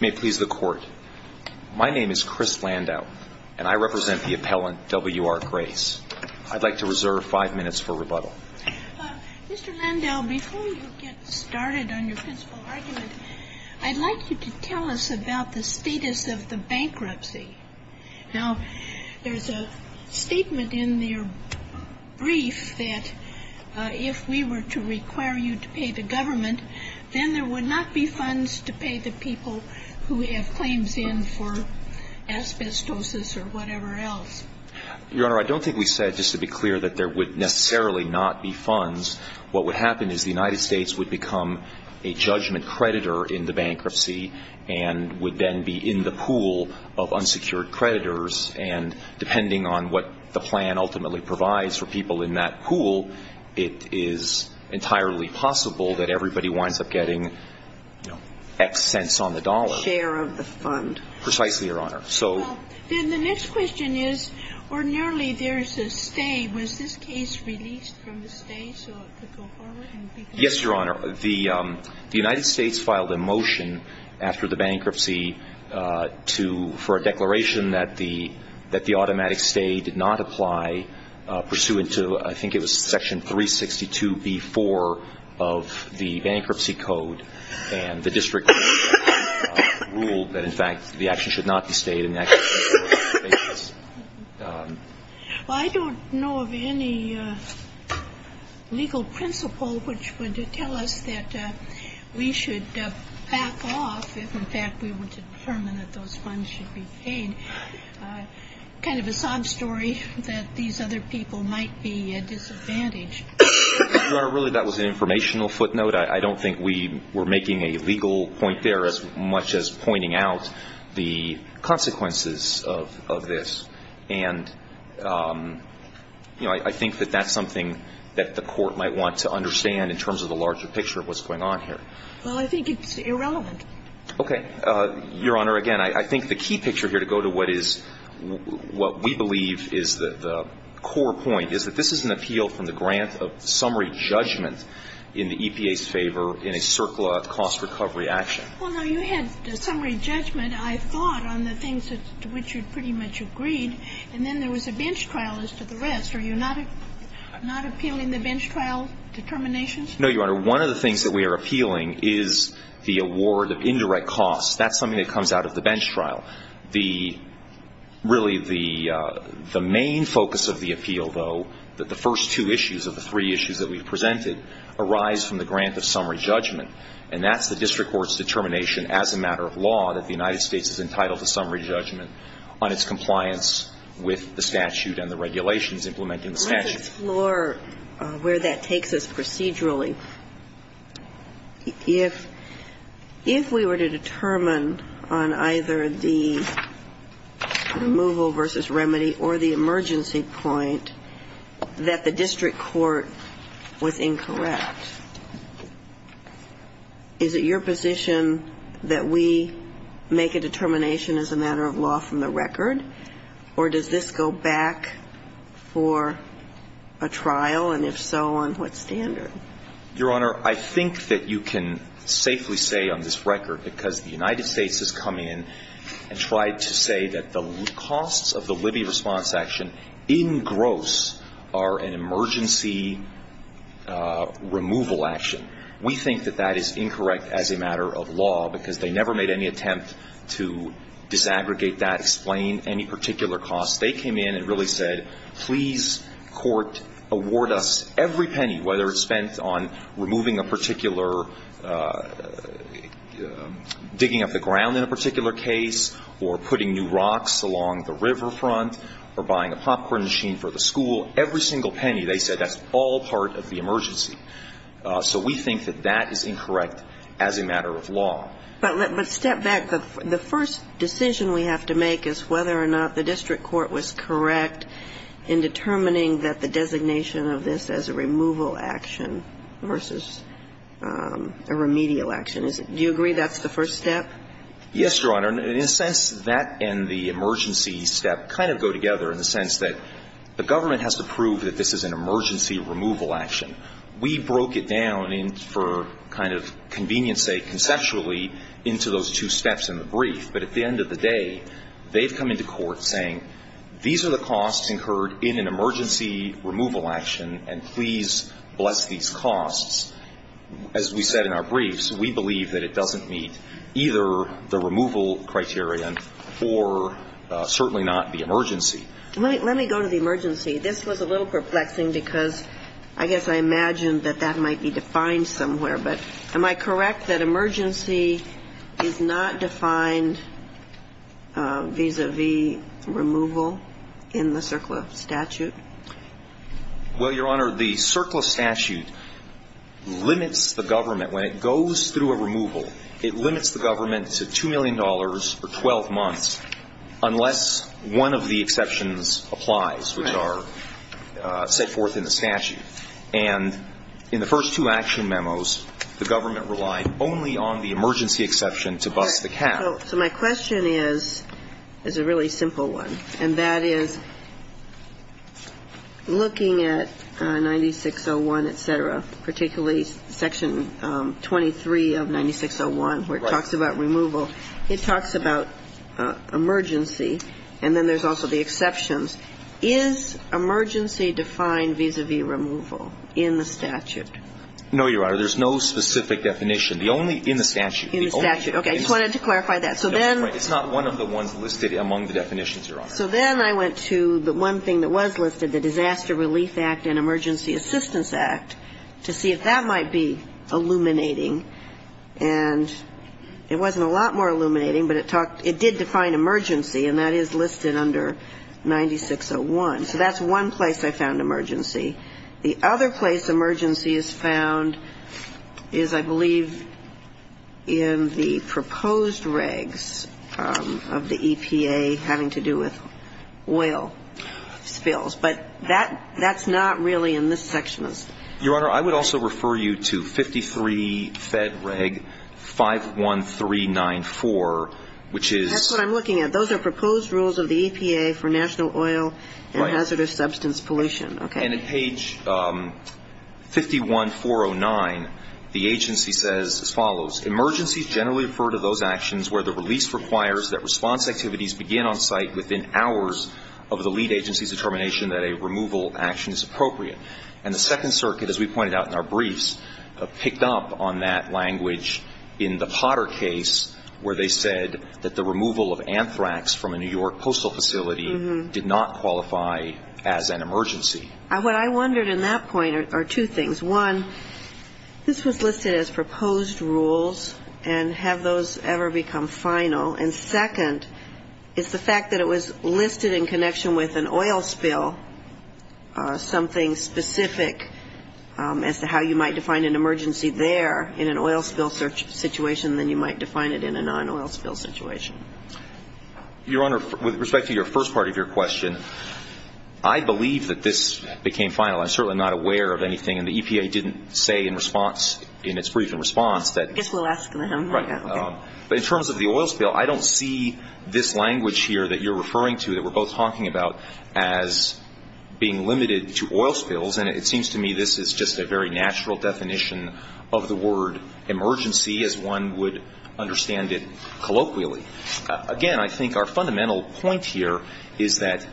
May it please the court. My name is Chris Landau and I represent the appellant W.R. Grace. I'd like to reserve five minutes for rebuttal. Mr. Landau, before you get started on your principle argument, I'd like you to tell us about the status of the bankruptcy. Now, there's a statement in your brief that if we were to require you to pay the government, then there would not be funds to pay the people who have claims in for asbestosis or whatever else. Your Honor, I don't think we said just to be clear that there would necessarily not be funds. What would happen is the United States would become a judgment creditor in the bankruptcy and would then be in the pool of unsecured creditors. And depending on what the plan ultimately provides for people in that pool, it is entirely possible that everybody winds up getting, you know, X cents on the dollar. Share of the fund. Precisely, Your Honor. Well, then the next question is ordinarily there's a stay. Was this case released from the stay so it could go forward? Yes, Your Honor. The United States filed a motion after the bankruptcy for a declaration that the automatic stay did not apply pursuant to I think it was section 362B-4 of the bankruptcy code. And the district ruled that, in fact, the action should not be stayed in the actual case. Well, I don't know of any legal principle which would tell us that we should back off if, in fact, we were to determine that those funds should be paid. Kind of a sob story that these other people might be disadvantaged. Your Honor, really that was an informational footnote. I don't think we were making a legal point there as much as pointing out the consequences of this. And, you know, I think that that's something that the Court might want to understand in terms of the larger picture of what's going on here. Well, I think it's irrelevant. Okay. Your Honor, again, I think the key picture here to go to what is what we believe is the core point is that this is an appeal from the grant of summary judgment in the EPA's favor in a CERCLA cost recovery action. Well, no, you had summary judgment, I thought, on the things to which you pretty much agreed, and then there was a bench trial as to the rest. Are you not appealing the bench trial determinations? No, Your Honor. One of the things that we are appealing is the award of indirect costs. That's something that comes out of the bench trial. The really the main focus of the appeal, though, that the first two issues of the three issues that we've presented arise from the grant of summary judgment, and that's the district court's determination as a matter of law that the United States is entitled to summary judgment on its compliance with the statute and the regulations implementing the statute. Let's explore where that takes us procedurally. If we were to determine on either the removal versus remedy or the emergency point that the district court was incorrect, is it your position that we make a determination as a matter of law from the record? Or does this go back for a trial, and if so, on what standard? Your Honor, I think that you can safely say on this record, because the United States has come in and tried to say that the costs of the Libby response action in gross are an emergency removal action. We think that that is incorrect as a matter of law because they never made any attempt to disaggregate that, explain any particular costs. They came in and really said, please, court, award us every penny, whether it's spent on removing a particular, digging up the ground in a particular case or putting new rocks along the riverfront or buying a popcorn machine for the school, every single penny. They said that's all part of the emergency. So we think that that is incorrect as a matter of law. But step back. The first decision we have to make is whether or not the district court was correct in determining that the designation of this as a removal action versus a remedial action. Do you agree that's the first step? Yes, Your Honor. In a sense, that and the emergency step kind of go together in the sense that the government has to prove that this is an emergency removal action. We broke it down for kind of convenience sake conceptually into those two steps in the brief. But at the end of the day, they've come into court saying these are the costs incurred in an emergency removal action, and please bless these costs. As we said in our briefs, we believe that it doesn't meet either the removal criterion or certainly not the emergency. Let me go to the emergency. This was a little perplexing because I guess I imagined that that might be defined somewhere. But am I correct that emergency is not defined vis-à-vis removal in the CERCLA statute? Well, Your Honor, the CERCLA statute limits the government. When it goes through a removal, it limits the government to $2 million for 12 months unless one of the exceptions applies, which are set forth in the statute. And in the first two action memos, the government relied only on the emergency exception to bust the cap. So my question is a really simple one, and that is, looking at 9601, et cetera, particularly Section 23 of 9601, where it talks about removal, it talks about emergency, and then there's also the exceptions. Is emergency defined vis-à-vis removal in the statute? No, Your Honor. There's no specific definition. The only ñ in the statute. In the statute. Okay. I just wanted to clarify that. So then ñ It's not one of the ones listed among the definitions, Your Honor. So then I went to the one thing that was listed, the Disaster Relief Act and Emergency Assistance Act, to see if that might be illuminating. And it wasn't a lot more illuminating, but it talked ñ it did define emergency, and that is listed under 9601. So that's one place I found emergency. The other place emergency is found is, I believe, in the proposed regs of the EPA having to do with oil spills. But that's not really in this section. Your Honor, I would also refer you to 53 Fed Reg 51394, which is ñ That's what I'm looking at. Those are proposed rules of the EPA for national oil and hazardous substance pollution. Right. And in page 51409, the agency says as follows, Emergencies generally refer to those actions where the release requires that response activities begin on site within hours of the lead agency's determination that a removal action is appropriate. And the Second Circuit, as we pointed out in our briefs, picked up on that language in the Potter case, where they said that the removal of anthrax from a New York postal facility did not qualify as an emergency. What I wondered in that point are two things. One, this was listed as proposed rules, and have those ever become final? And second, it's the fact that it was listed in connection with an oil spill, something specific as to how you might define an emergency there in an oil spill situation than you might define it in a non-oil spill situation. Your Honor, with respect to your first part of your question, I believe that this became final. I'm certainly not aware of anything. And the EPA didn't say in response, in its brief in response that ñ I guess we'll ask them. Right. But in terms of the oil spill, I don't see this language here that you're referring to that we're both talking about as being limited to oil spills. And it seems to me this is just a very natural definition of the word emergency as one would understand it colloquially. Again, I think our fundamental point here is that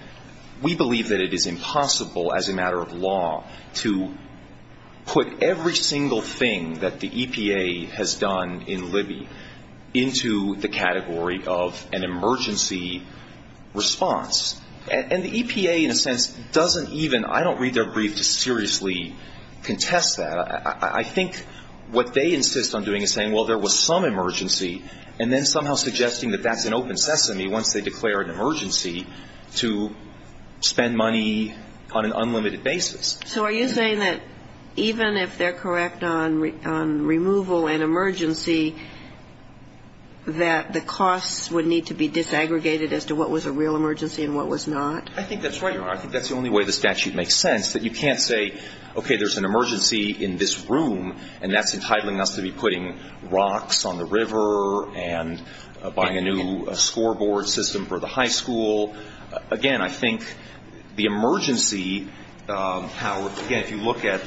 we believe that it is impossible as a matter of law to put every single thing that the EPA has done in Libby into the category of an emergency response. And the EPA, in a sense, doesn't even ñ I don't read their brief to seriously contest that. I think what they insist on doing is saying, well, there was some emergency, and then somehow suggesting that that's an open sesame once they declare an emergency to spend money on an unlimited basis. So are you saying that even if they're correct on removal and emergency, that the costs would need to be disaggregated as to what was a real emergency and what was not? I think that's right. I think that's the only way the statute makes sense, that you can't say, okay, there's an emergency in this room, and that's entitling us to be putting rocks on the river and buying a new scoreboard system for the high school. Again, I think the emergency, how ñ again, if you look at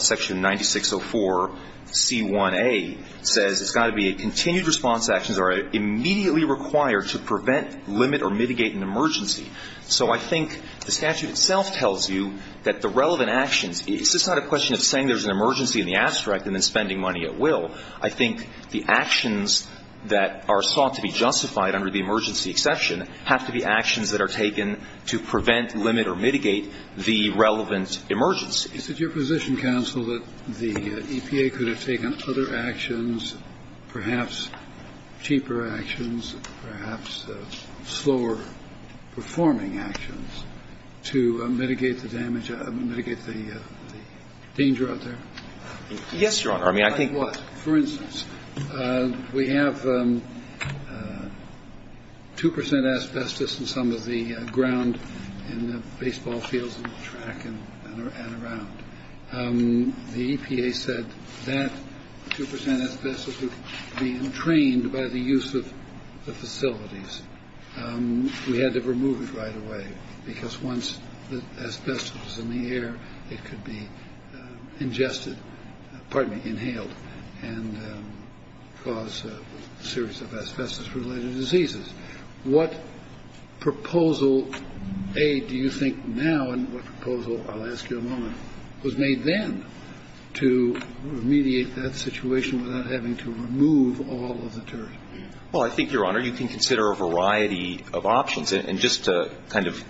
section 9604c1a, it says it's got to be a continued response to actions that are immediately required to prevent, limit, or mitigate an emergency. So I think the statute itself tells you that the relevant actions ñ it's just not a question of saying there's an emergency in the abstract and then spending money at will. I think the actions that are sought to be justified under the emergency exception have to be actions that are taken to prevent, limit, or mitigate the relevant emergency. Is it your position, counsel, that the EPA could have taken other actions, perhaps cheaper actions, perhaps slower-performing actions, to mitigate the damage ñ mitigate the danger out there? Yes, Your Honor. I mean, I think ñ and some of the ground in the baseball fields and the track and around. The EPA said that 2 percent asbestos would be entrained by the use of the facilities. We had to remove it right away because once the asbestos was in the air, it could be ingested ñ pardon me, inhaled ñ and cause a series of asbestos-related diseases. What proposal, A, do you think now and what proposal, I'll ask you in a moment, was made then to remediate that situation without having to remove all of the turf? Well, I think, Your Honor, you can consider a variety of options. And just to kind of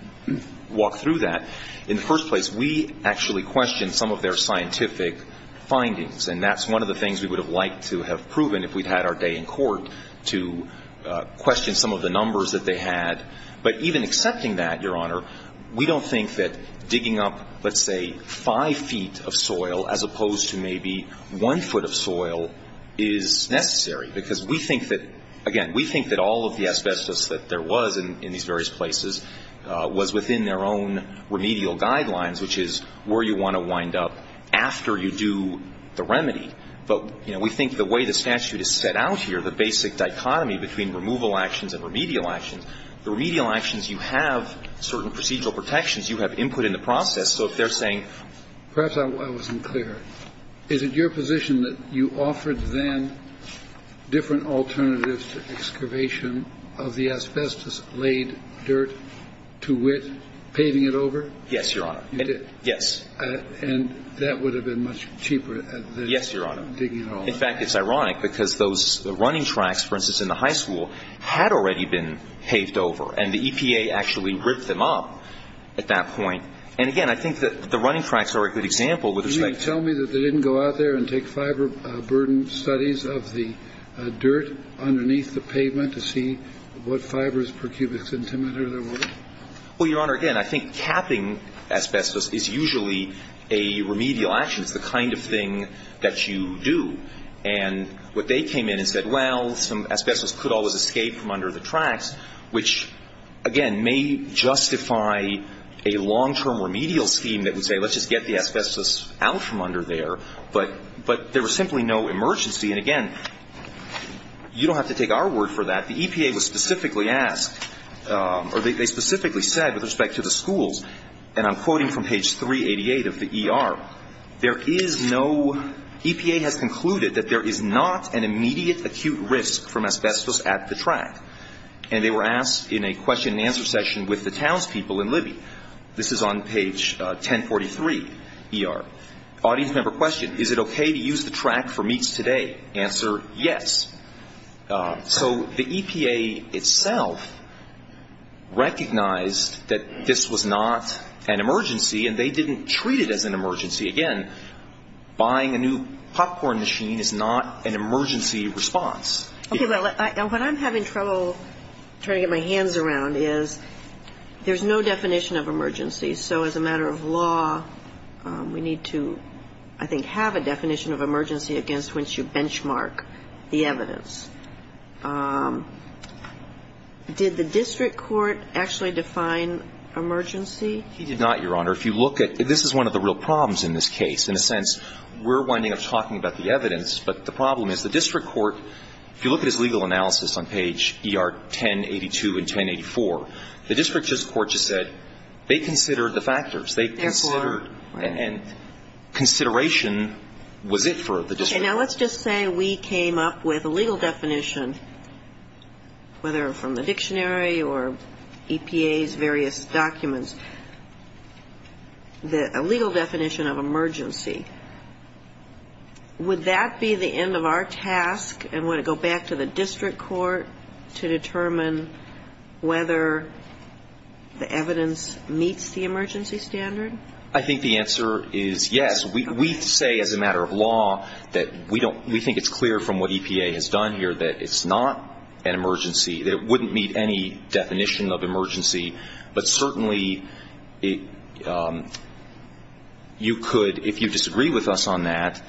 walk through that, in the first place, we actually questioned some of their scientific findings. And that's one of the things we would have liked to have proven if we'd had our day in court to question some of the numbers that they had. But even accepting that, Your Honor, we don't think that digging up, let's say, five feet of soil as opposed to maybe one foot of soil is necessary. Because we think that ñ again, we think that all of the asbestos that there was in these various places was within their own remedial guidelines, which is where you want to wind up after you do the remedy. But, you know, we think the way the statute is set out here, the basic dichotomy between removal actions and remedial actions, the remedial actions, you have certain procedural protections. You have input in the process. So if they're saying ñ Perhaps I wasn't clear. Is it your position that you offered then different alternatives to excavation of the asbestos-laid dirt to wit, paving it over? Yes, Your Honor. You did? And that would have been much cheaper than ñ Yes, Your Honor. In fact, it's ironic because those running tracks, for instance, in the high school, had already been paved over. And the EPA actually ripped them up at that point. And, again, I think that the running tracks are a good example with respect to ñ Can you tell me that they didn't go out there and take fiber burden studies of the dirt underneath the pavement to see what fibers per cubic centimeter there were? Well, Your Honor, again, I think capping asbestos is usually a remedial action. It's the kind of thing that you do. And what they came in and said, well, some asbestos could always escape from under the tracks, which, again, may justify a long-term remedial scheme that would say let's just get the asbestos out from under there. But there was simply no emergency. And, again, you don't have to take our word for that. The EPA was specifically asked, or they specifically said with respect to the schools And I'm quoting from page 388 of the ER. There is no ñ EPA has concluded that there is not an immediate acute risk from asbestos at the track. And they were asked in a question and answer session with the townspeople in Libya. This is on page 1043, ER. Audience member questioned, is it okay to use the track for meets today? Answer, yes. So the EPA itself recognized that this was not an emergency, and they didn't treat it as an emergency. Again, buying a new popcorn machine is not an emergency response. Okay. Well, what I'm having trouble trying to get my hands around is there's no definition of emergency. So as a matter of law, we need to, I think, have a definition of emergency against which you benchmark the evidence. Did the district court actually define emergency? He did not, Your Honor. If you look at ñ this is one of the real problems in this case. In a sense, we're winding up talking about the evidence. But the problem is the district court, if you look at his legal analysis on page ER1082 and 1084, the district court just said they considered the factors. Therefore. And consideration was it for the district court. Okay. Now, let's just say we came up with a legal definition, whether from the dictionary or EPA's various documents, a legal definition of emergency. Would that be the end of our task and would it go back to the district court to determine whether the evidence meets the emergency standard? I think the answer is yes. We say as a matter of law that we think it's clear from what EPA has done here that it's not an emergency, that it wouldn't meet any definition of emergency. But certainly, you could, if you disagree with us on that,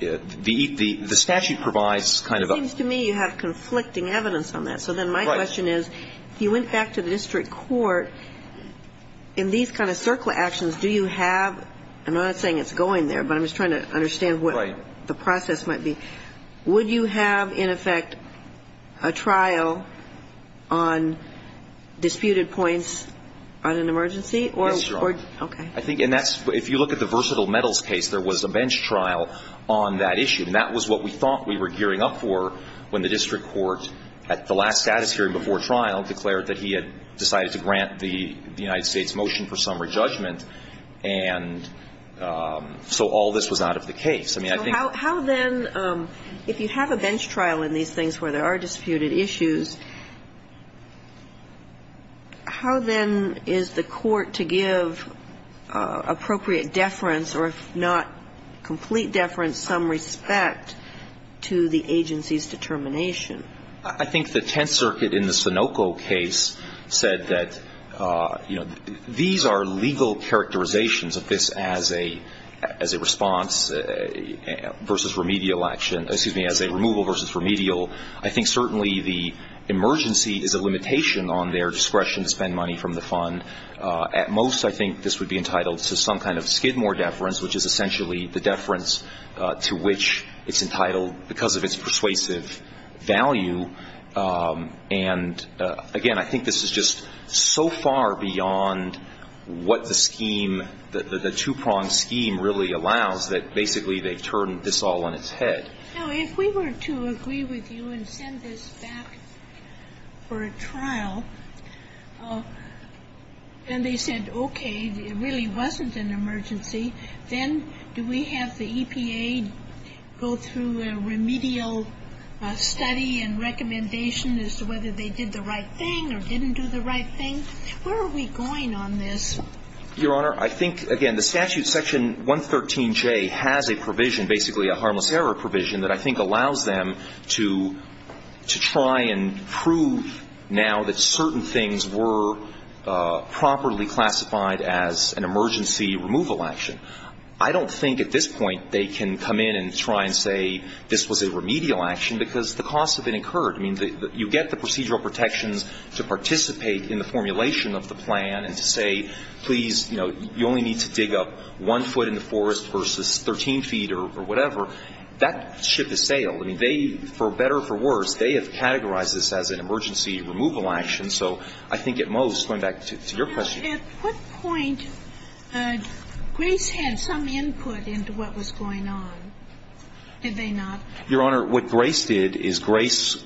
the statute provides kind of a ñ It seems to me you have conflicting evidence on that. So then my question is, if you went back to the district court, in these kind of circle actions, do you have ñ I'm not saying it's going there, but I'm just trying to understand what the process might be. Right. Would you have, in effect, a trial on disputed points on an emergency? Yes, Your Honor. Okay. I think ñ and that's ñ if you look at the versatile metals case, there was a bench trial on that issue. And that was what we thought we were gearing up for when the district court, at the last status hearing before trial, declared that he had decided to grant the United States motion for summary judgment. And so all this was out of the case. I mean, I think ñ So how then, if you have a bench trial in these things where there are disputed issues, how then is the court to give appropriate deference, or if not complete deference, some respect to the agency's determination? I think the Tenth Circuit in the Sunoco case said that, you know, these are legal characterizations of this as a ñ as a response versus remedial action ñ excuse me, as a removal versus remedial. I think certainly the emergency is a limitation on their discretion to spend money from the fund. At most, I think this would be entitled to some kind of skidmore deference, which is essentially the deference to which it's entitled because of its persuasive value. And, again, I think this is just so far beyond what the scheme ñ the two-pronged scheme really allows, that basically they've turned this all on its head. Now, if we were to agree with you and send this back for a trial, and they said, okay, it really wasn't an emergency, then do we have to go through a remedial study and recommendation as to whether they did the right thing or didn't do the right thing? Where are we going on this? Your Honor, I think, again, the statute section 113J has a provision, basically a harmless error provision, that I think allows them to try and prove now that certain things were properly classified as an emergency removal action. I don't think at this point they can come in and try and say this was a remedial action because the costs have been incurred. I mean, you get the procedural protections to participate in the formulation of the plan and to say, please, you know, you only need to dig up one foot in the forest versus 13 feet or whatever. That ship has sailed. I mean, they, for better or for worse, they have categorized this as an emergency removal action. So I think at most, going back to your question. At what point did Grace have some input into what was going on? Did they not? Your Honor, what Grace did is Grace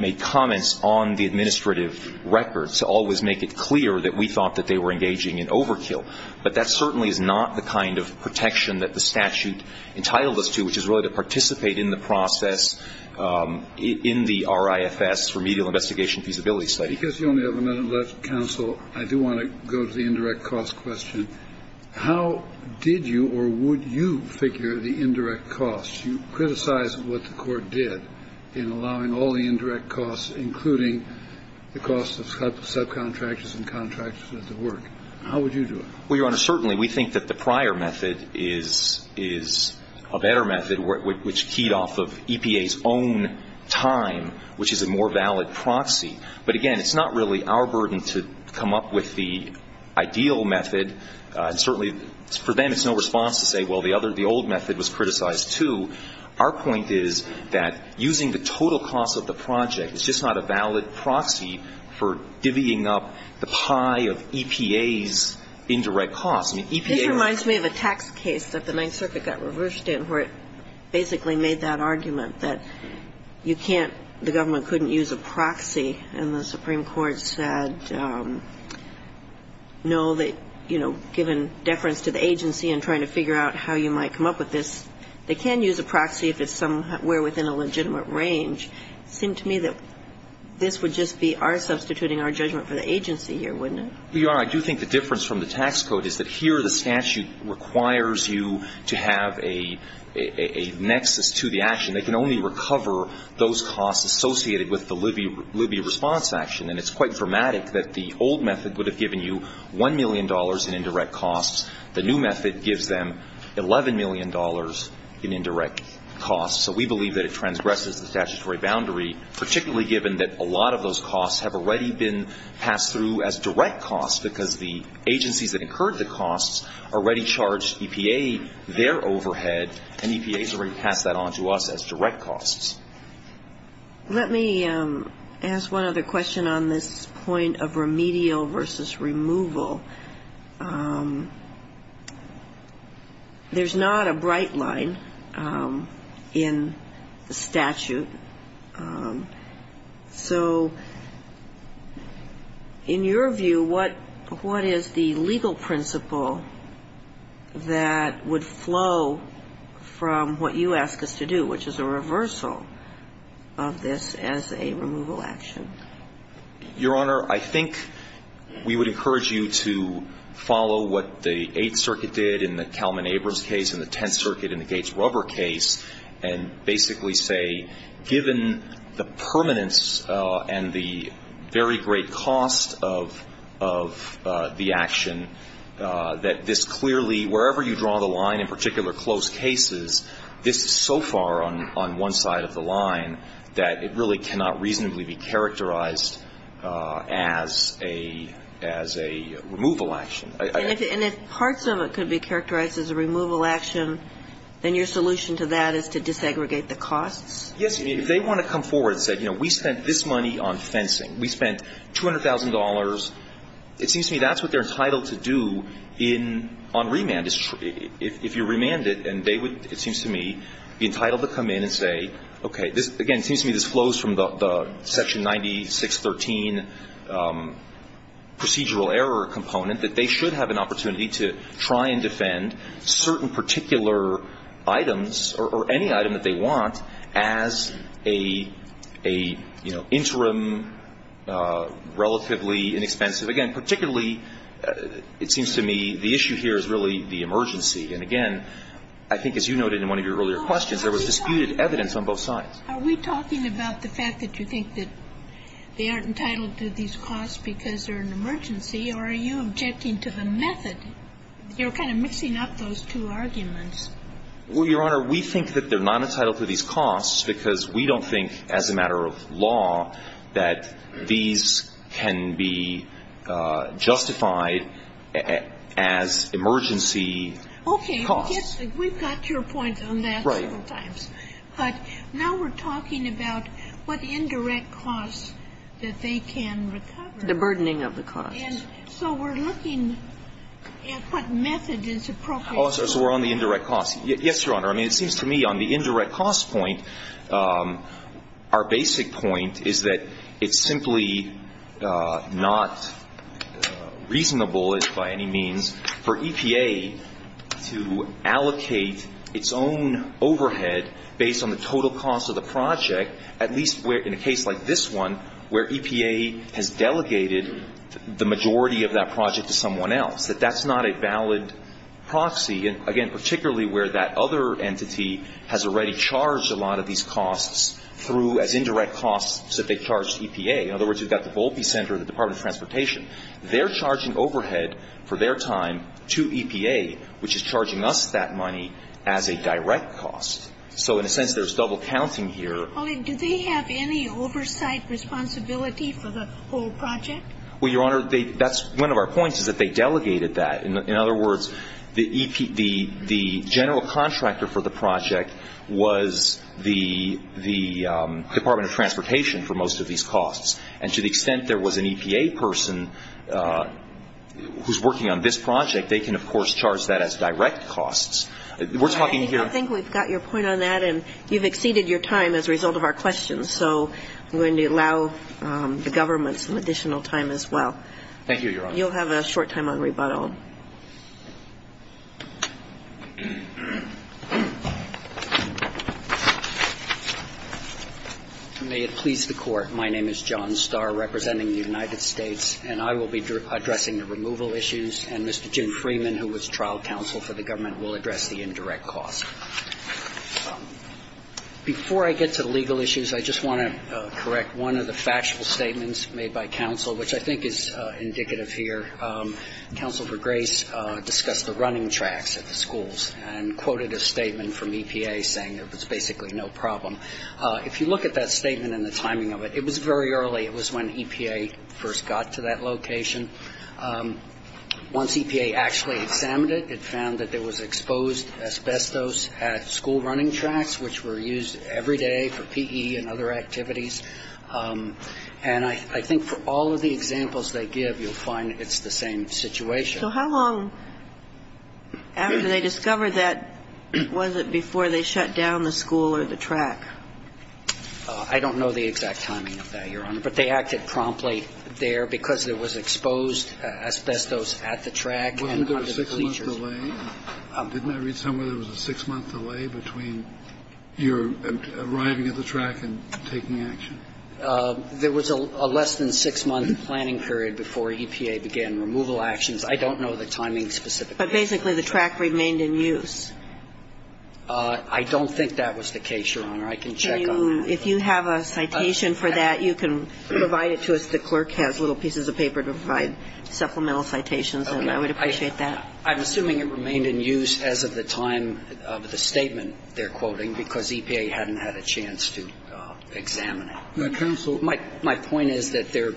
made comments on the administrative records to always make it clear that we thought that they were engaging in overkill. But that certainly is not the kind of protection that the statute entitled us to, which is really to participate in the process in the RIFS, Remedial Investigation Feasibility Study. Because you only have a minute left, counsel, I do want to go to the indirect cost question. How did you or would you figure the indirect cost? You criticized what the Court did in allowing all the indirect costs, including the costs of subcontractors and contractors at the work. How would you do it? Well, Your Honor, certainly we think that the prior method is a better method, which keyed off of EPA's own time, which is a more valid proxy. But, again, it's not really our burden to come up with the ideal method. And certainly for them it's no response to say, well, the other, the old method was criticized, too. Our point is that using the total cost of the project is just not a valid proxy for divvying up the pie of EPA's indirect costs. I mean, EPA was ---- This reminds me of a tax case that the Ninth Circuit got reversed in where it basically made that argument that you can't use a proxy and the Supreme Court said no, that, you know, given deference to the agency and trying to figure out how you might come up with this, they can use a proxy if it's somewhere within a legitimate range. It seemed to me that this would just be our substituting our judgment for the agency here, wouldn't it? Well, Your Honor, I do think the difference from the tax code is that here the statute requires you to have a nexus to the action. They can only recover those costs associated with the Libby response action. And it's quite dramatic that the old method would have given you $1 million in indirect costs. The new method gives them $11 million in indirect costs. So we believe that it transgresses the statutory boundary, particularly given that a lot of those costs have already been passed through as direct costs because the agencies that incurred the costs already charged EPA their overhead, and EPA has already passed that on to us as direct costs. Let me ask one other question on this point of remedial versus removal. There's not a bright line in the statute. So in your view, what is the legal principle that would flow from what you ask us to do, which is a reversal of this as a removal action? Your Honor, I think we would encourage you to follow what the Eighth Circuit did in the Kalman-Abrams case and the Tenth given the permanence and the very great cost of the action, that this clearly, wherever you draw the line, in particular close cases, this is so far on one side of the line that it really cannot reasonably be characterized as a removal action. And if parts of it could be characterized as a removal action, then your solution to that is to desegregate the costs? Yes. If they want to come forward and say, you know, we spent this money on fencing. We spent $200,000. It seems to me that's what they're entitled to do on remand. If you remand it and they would, it seems to me, be entitled to come in and say, okay, again, it seems to me this flows from the section 9613 procedural error component that they should have an opportunity to try and defend certain particular items or any item that they want as a, you know, interim relatively inexpensive. Again, particularly, it seems to me the issue here is really the emergency. And again, I think as you noted in one of your earlier questions, there was disputed evidence on both sides. Are we talking about the fact that you think that they aren't entitled to these costs because they're an emergency, or are you objecting to the method? You're kind of mixing up those two arguments. Well, Your Honor, we think that they're not entitled to these costs because we don't think as a matter of law that these can be justified as emergency costs. Okay. We've got your point on that several times. Right. But now we're talking about what indirect costs that they can recover. The burdening of the costs. And so we're looking at what method is appropriate. Oh, so we're on the indirect costs. Yes, Your Honor. I mean, it seems to me on the indirect cost point, our basic point is that it's simply not reasonable by any means for EPA to allocate its own overhead based on the total cost of the project, at least in a case like this one where EPA has delegated the majority of that project to someone else. That that's not a valid proxy. Again, particularly where that other entity has already charged a lot of these costs through as indirect costs that they've charged EPA. In other words, you've got the Volpe Center, the Department of Transportation. They're charging overhead for their time to EPA, which is charging us that money as a direct cost. So in a sense, there's double counting here. Do they have any oversight responsibility for the whole project? Well, Your Honor, that's one of our points, is that they delegated that. In other words, the general contractor for the project was the Department of Transportation for most of these costs. And to the extent there was an EPA person who's working on this project, they can, of course, charge that as direct costs. We're talking here. I think we've got your point on that, and you've exceeded your time as a result of our questions. So I'm going to allow the government some additional time as well. Thank you, Your Honor. You'll have a short time on rebuttal. May it please the Court. My name is John Starr, representing the United States, and I will be addressing the removal issues, and Mr. Jim Freeman, who was trial counsel for the government, will address the indirect costs. Before I get to the legal issues, I just want to correct one of the factual statements made by counsel, which I think is indicative here. Counsel for Grace discussed the running tracks at the schools and quoted a statement from EPA saying there was basically no problem. If you look at that statement and the timing of it, it was very early. It was when EPA first got to that location. Once EPA actually examined it, it found that there was exposed asbestos at school running tracks, which were used every day for PE and other activities. And I think for all of the examples they give, you'll find it's the same situation. So how long after they discovered that was it before they shut down the school or the track? I don't know the exact timing of that, Your Honor, but they acted promptly there because there was exposed asbestos at the track and under the bleachers. Wasn't there a six-month delay? Didn't I read somewhere there was a six-month delay between your arriving at the track and taking action? There was a less than six-month planning period before EPA began removal actions. I don't know the timing specifically. But basically the track remained in use. I don't think that was the case, Your Honor. I can check on that. If you have a citation for that, you can provide it to us. The clerk has little pieces of paper to provide supplemental citations, and I would appreciate that. I'm assuming it remained in use as of the time of the statement they're quoting because EPA hadn't had a chance to examine it. Counsel. My point is that they're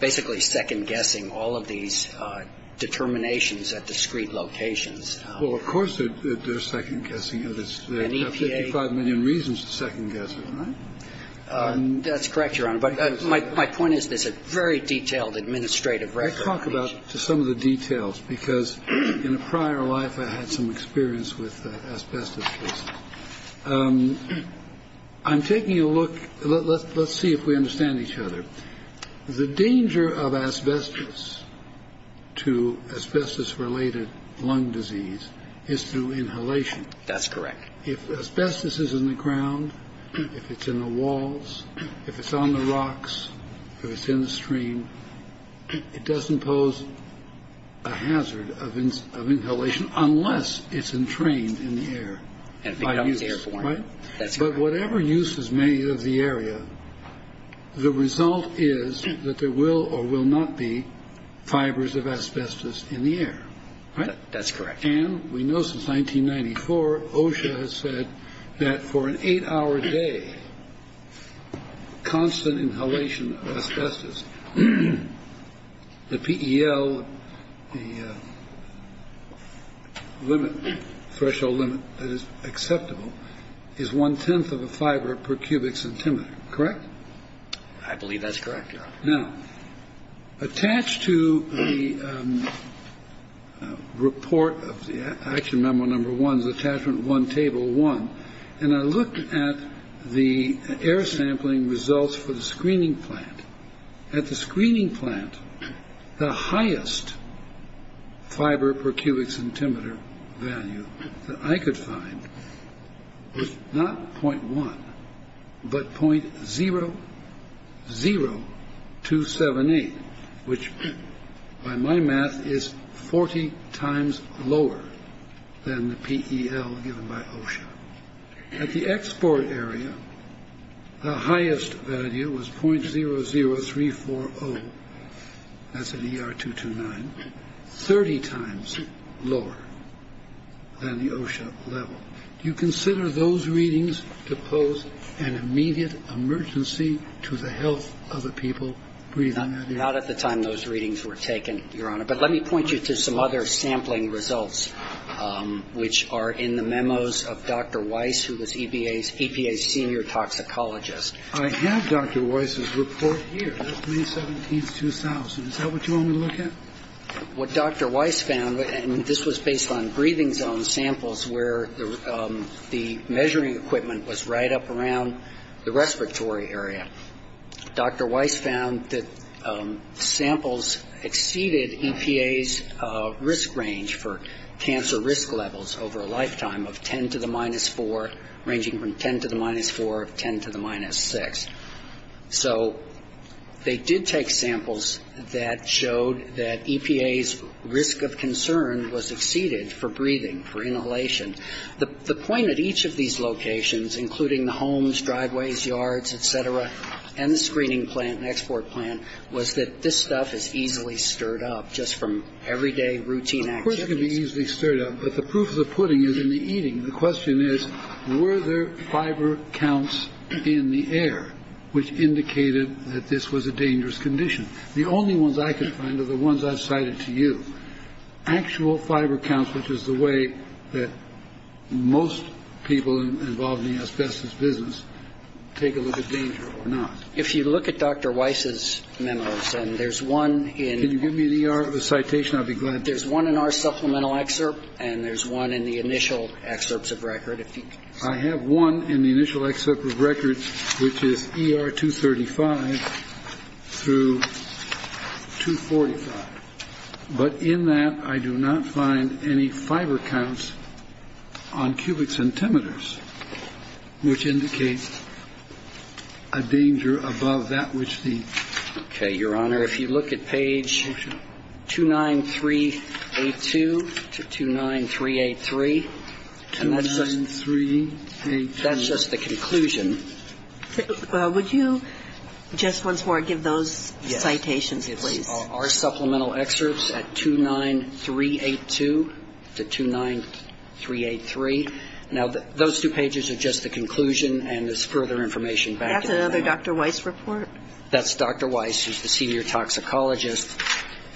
basically second-guessing all of these determinations at discrete locations. Well, of course they're second-guessing. They have 55 million reasons to second-guess it, right? That's correct, Your Honor. But my point is there's a very detailed administrative record. Let's talk about some of the details, because in a prior life I had some experience with asbestos cases. I'm taking a look. Let's see if we understand each other. The danger of asbestos to asbestos-related lung disease is through inhalation. That's correct. If asbestos is in the ground, if it's in the walls, if it's on the rocks, if it's in the stream, it doesn't pose a hazard of inhalation unless it's entrained in the air by use, right? That's correct. But whatever use is made of the area, the result is that there will or will not be fibers of asbestos in the air, right? That's correct. And we know since 1994, OSHA has said that for an eight-hour day, constant inhalation of asbestos, the PEL, the threshold limit that is acceptable, is one-tenth of a fiber per cubic centimeter, correct? Now, attached to the report of the action memo number one, the attachment one table one, and I looked at the air sampling results for the screening plant. At the screening plant, the highest fiber per cubic centimeter value that I could find was not 0.1, but 0.00278, which, by my math, is 40 times lower than the PEL given by OSHA. At the export area, the highest value was 0.00340. That's an ER229, 30 times lower than the OSHA level. Do you consider those readings to pose an immediate emergency to the health of the people breathing? Not at the time those readings were taken, Your Honor. But let me point you to some other sampling results, which are in the memos of Dr. Weiss, who was EPA's senior toxicologist. I have Dr. Weiss's report here, May 17, 2000. Is that what you want me to look at? What Dr. Weiss found, and this was based on breathing zone samples, where the measuring equipment was right up around the respiratory area, Dr. Weiss found that samples exceeded EPA's risk range for cancer risk levels over a lifetime of 10 to the minus 4, ranging from 10 to the minus 4 to 10 to the minus 6. So they did take samples that showed that EPA's risk of concern was exceeded for breathing, for inhalation. The point at each of these locations, including the homes, driveways, yards, et cetera, and the screening plant and export plant, was that this stuff is easily stirred up just from everyday routine activities. Of course it can be easily stirred up, but the proof of the pudding is in the eating. The question is, were there fiber counts in the air, which indicated that this was a dangerous condition? The only ones I could find are the ones I've cited to you. Actual fiber counts, which is the way that most people involved in the asbestos business take a look at danger or not. If you look at Dr. Weiss's memos, and there's one in – Can you give me the citation? I'd be glad to. There's one in our supplemental excerpt, and there's one in the initial excerpts of record. I have one in the initial excerpt of record, which is ER 235 through 245. But in that, I do not find any fiber counts on cubic centimeters, which indicates a danger above that which the – Okay, Your Honor, if you look at page 29382 to 29383, and that's just – 29382. That's just the conclusion. Well, would you just once more give those citations, please? Yes. Our supplemental excerpts at 29382 to 29383. Now, those two pages are just the conclusion, and there's further information back in the memo. That's another Dr. Weiss report? That's Dr. Weiss, who's the senior toxicologist.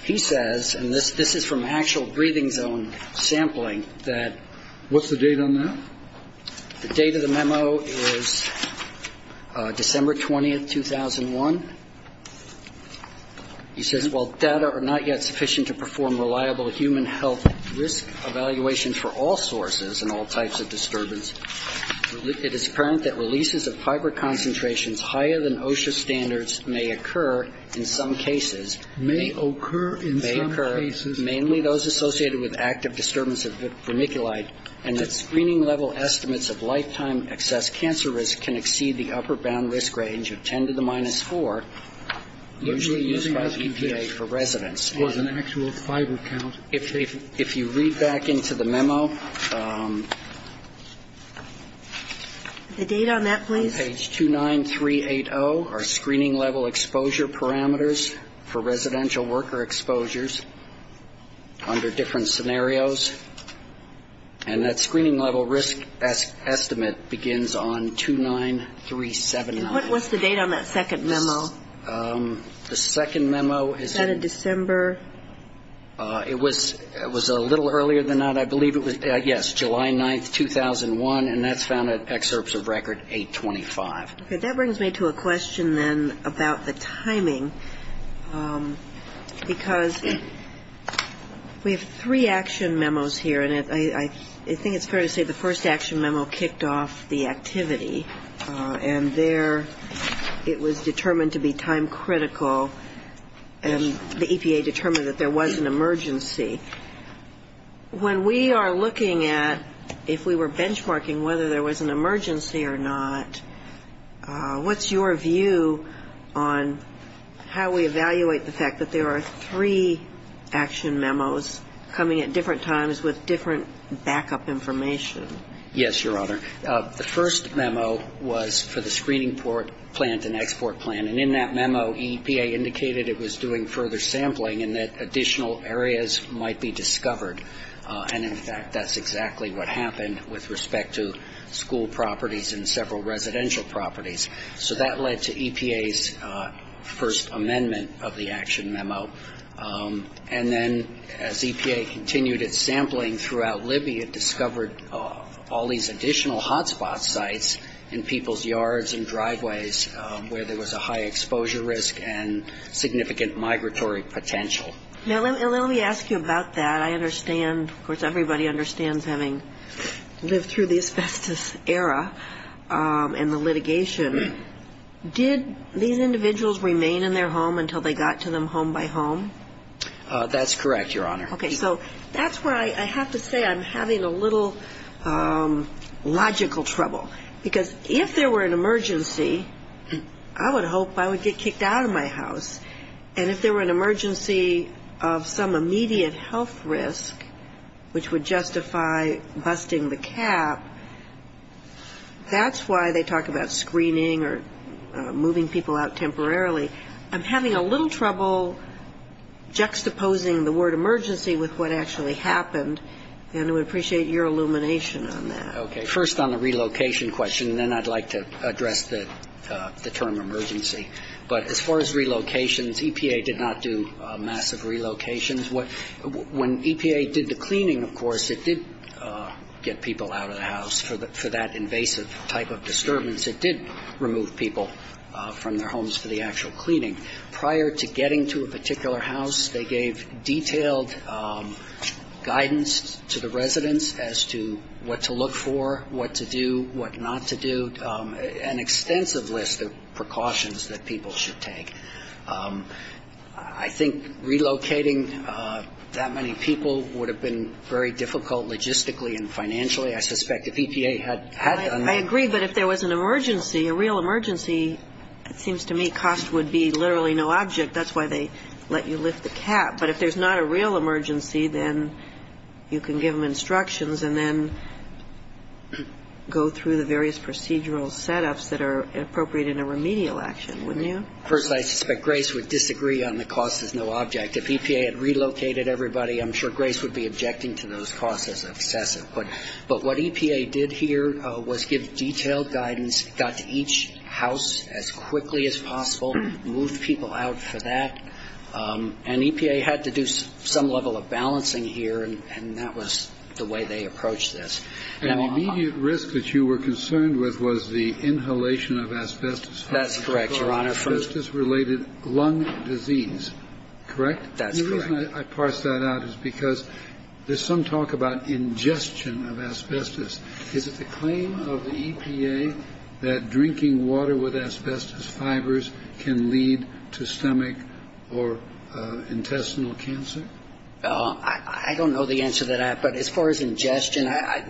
He says – and this is from actual breathing zone sampling that – What's the date on that? The date of the memo is December 20, 2001. He says, While data are not yet sufficient to perform reliable human health risk evaluation for all sources and all types of disturbance, it is apparent that releases of fiber concentrations higher than OSHA standards may occur in some cases. May occur in some cases. May occur, mainly those associated with active disturbance of vermiculite, and that screening level estimates of lifetime excess cancer risk can exceed the upper bound risk range of 10 to the minus 4, usually used by EPA for residents. Was an actual fiber count taken? If you read back into the memo – The date on that, please? On page 29380 are screening level exposure parameters for residential worker exposures under different scenarios, and that screening level risk estimate begins on 29379. What's the date on that second memo? The second memo is – Is that a December – It was a little earlier than that. I believe it was – yes, July 9, 2001, and that's found at excerpts of record 825. Okay. That brings me to a question, then, about the timing, because we have three action memos here, and I think it's fair to say the first action memo kicked off the activity, and there it was determined to be time critical, and the EPA determined that there was an emergency. When we are looking at, if we were benchmarking whether there was an emergency or not, what's your view on how we evaluate the fact that there are three action memos coming at different times with different backup information? Yes, Your Honor. The first memo was for the screening plant and export plant, and in that memo, EPA indicated it was doing further sampling and that additional areas might be discovered. And, in fact, that's exactly what happened with respect to school properties and several residential properties. So that led to EPA's first amendment of the action memo. And then as EPA continued its sampling throughout Libya, it discovered all these additional hotspot sites in people's yards and driveways where there was a high exposure risk and significant migratory potential. Now, let me ask you about that. I understand, of course, everybody understands having lived through the asbestos era and the litigation. Did these individuals remain in their home until they got to them home by home? That's correct, Your Honor. Okay. So that's where I have to say I'm having a little logical trouble, because if there were an emergency, I would hope I would get kicked out of my house. And if there were an emergency of some immediate health risk, which would justify busting the cap, that's why they talk about screening or moving people out temporarily. I'm having a little trouble juxtaposing the word emergency with what actually happened, and I would appreciate your illumination on that. Okay. First on the relocation question, and then I'd like to address the term emergency. But as far as relocations, EPA did not do massive relocations. When EPA did the cleaning, of course, it did get people out of the house. For that invasive type of disturbance, it did remove people from their homes for the actual cleaning. Prior to getting to a particular house, they gave detailed guidance to the residents as to what to look for, what to do, what not to do, an extensive list of precautions that people should take. I think relocating that many people would have been very difficult logistically and financially. I suspect if EPA had done that. I agree. But if there was an emergency, a real emergency, it seems to me cost would be literally no object. That's why they let you lift the cap. But if there's not a real emergency, then you can give them instructions and then go through the various procedural setups that are appropriate in a remedial action, wouldn't you? First, I suspect Grace would disagree on the cost is no object. If EPA had relocated everybody, I'm sure Grace would be objecting to those costs as obsessive. But what EPA did here was give detailed guidance, got to each house as quickly as possible, moved people out for that. And EPA had to do some level of balancing here, and that was the way they approached this. And the immediate risk that you were concerned with was the inhalation of asbestos. That's correct, Your Honor. Asbestos-related lung disease, correct? That's correct. And the reason I parse that out is because there's some talk about ingestion of asbestos. Is it the claim of the EPA that drinking water with asbestos fibers can lead to stomach or intestinal cancer? I don't know the answer to that. But as far as ingestion,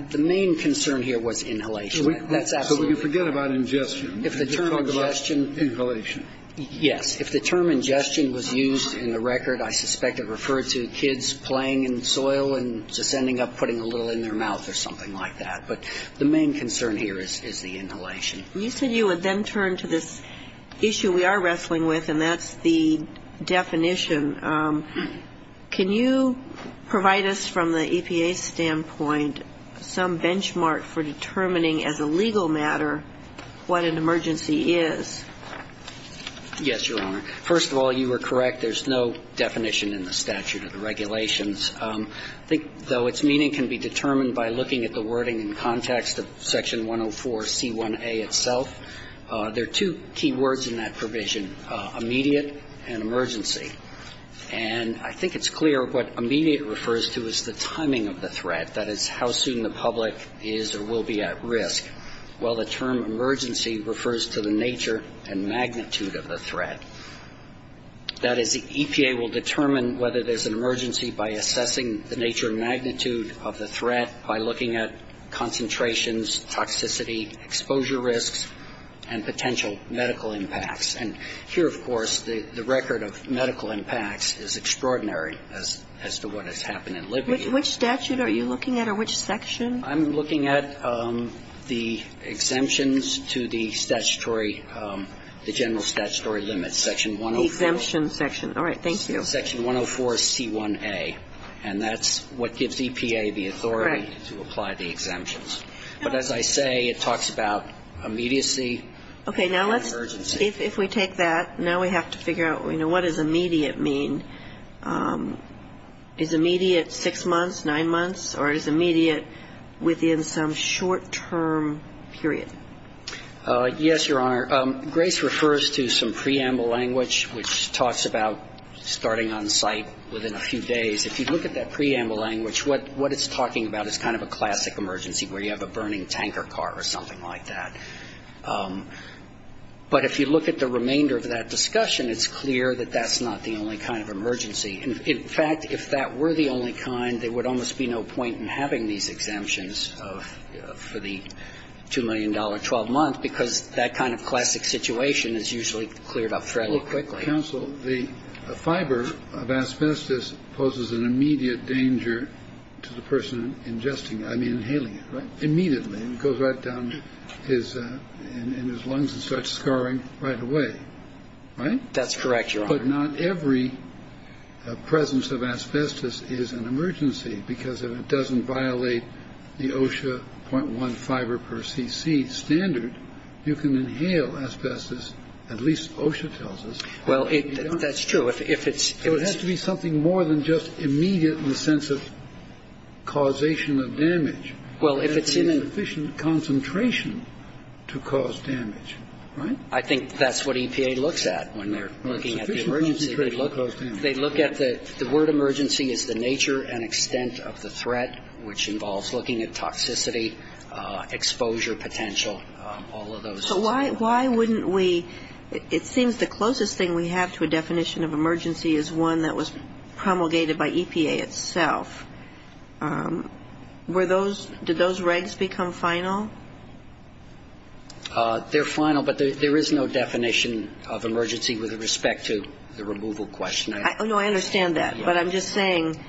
the main concern here was inhalation. That's absolutely correct. So we can forget about ingestion and just talk about inhalation. Yes. If the term ingestion was used in the record, I suspect it referred to kids playing in soil and just ending up putting a little in their mouth or something like that. But the main concern here is the inhalation. You said you would then turn to this issue we are wrestling with, and that's the definition. Can you provide us from the EPA standpoint some benchmark for determining as a legal matter what an emergency is? Yes, Your Honor. First of all, you were correct. There's no definition in the statute or the regulations. I think, though, its meaning can be determined by looking at the wording in context of Section 104C1A itself. There are two key words in that provision, immediate and emergency. And I think it's clear what immediate refers to is the timing of the threat, that is, how soon the public is or will be at risk, while the term emergency refers to the nature and magnitude of the threat. That is, the EPA will determine whether there's an emergency by assessing the nature and magnitude of the threat, by looking at concentrations, toxicity, exposure risks, and potential medical impacts. And here, of course, the record of medical impacts is extraordinary as to what has happened in Libya. Which statute are you looking at or which section? I'm looking at the exemptions to the statutory, the general statutory limits, Section 104. The exemption section. All right. Thank you. Section 104C1A. And that's what gives EPA the authority to apply the exemptions. But as I say, it talks about immediacy and urgency. Okay. Now let's, if we take that, now we have to figure out, you know, what does immediate mean? Is immediate six months, nine months, or is immediate within some short-term period? Yes, Your Honor. Grace refers to some preamble language which talks about starting on site within a few days. If you look at that preamble language, what it's talking about is kind of a classic emergency where you have a burning tanker car or something like that. But if you look at the remainder of that discussion, it's clear that that's not the only kind of emergency. In fact, if that were the only kind, there would almost be no point in having these exemptions for the $2 million, 12 months, because that kind of classic situation is usually cleared up fairly quickly. Counsel, the fiber of asbestos poses an immediate danger to the person ingesting it. I mean inhaling it. Immediately. It goes right down his lungs and starts scarring right away. Right. That's correct, Your Honor. But not every presence of asbestos is an emergency, because if it doesn't violate the OSHA 0.1 fiber per cc standard, you can inhale asbestos. At least OSHA tells us. Well, that's true. If it's. It has to be something more than just immediate in the sense of causation of damage. Well, if it's in a. It has to be sufficient concentration to cause damage. Right? I think that's what EPA looks at when they're looking at the emergency. Well, sufficient concentration to cause damage. They look at the word emergency is the nature and extent of the threat, which involves looking at toxicity, exposure potential, all of those. So why wouldn't we. It seems the closest thing we have to a definition of emergency is one that was promulgated by EPA itself. Were those. Did those regs become final? They're final, but there is no definition of emergency with respect to the removal question. No, I understand that. But I'm just saying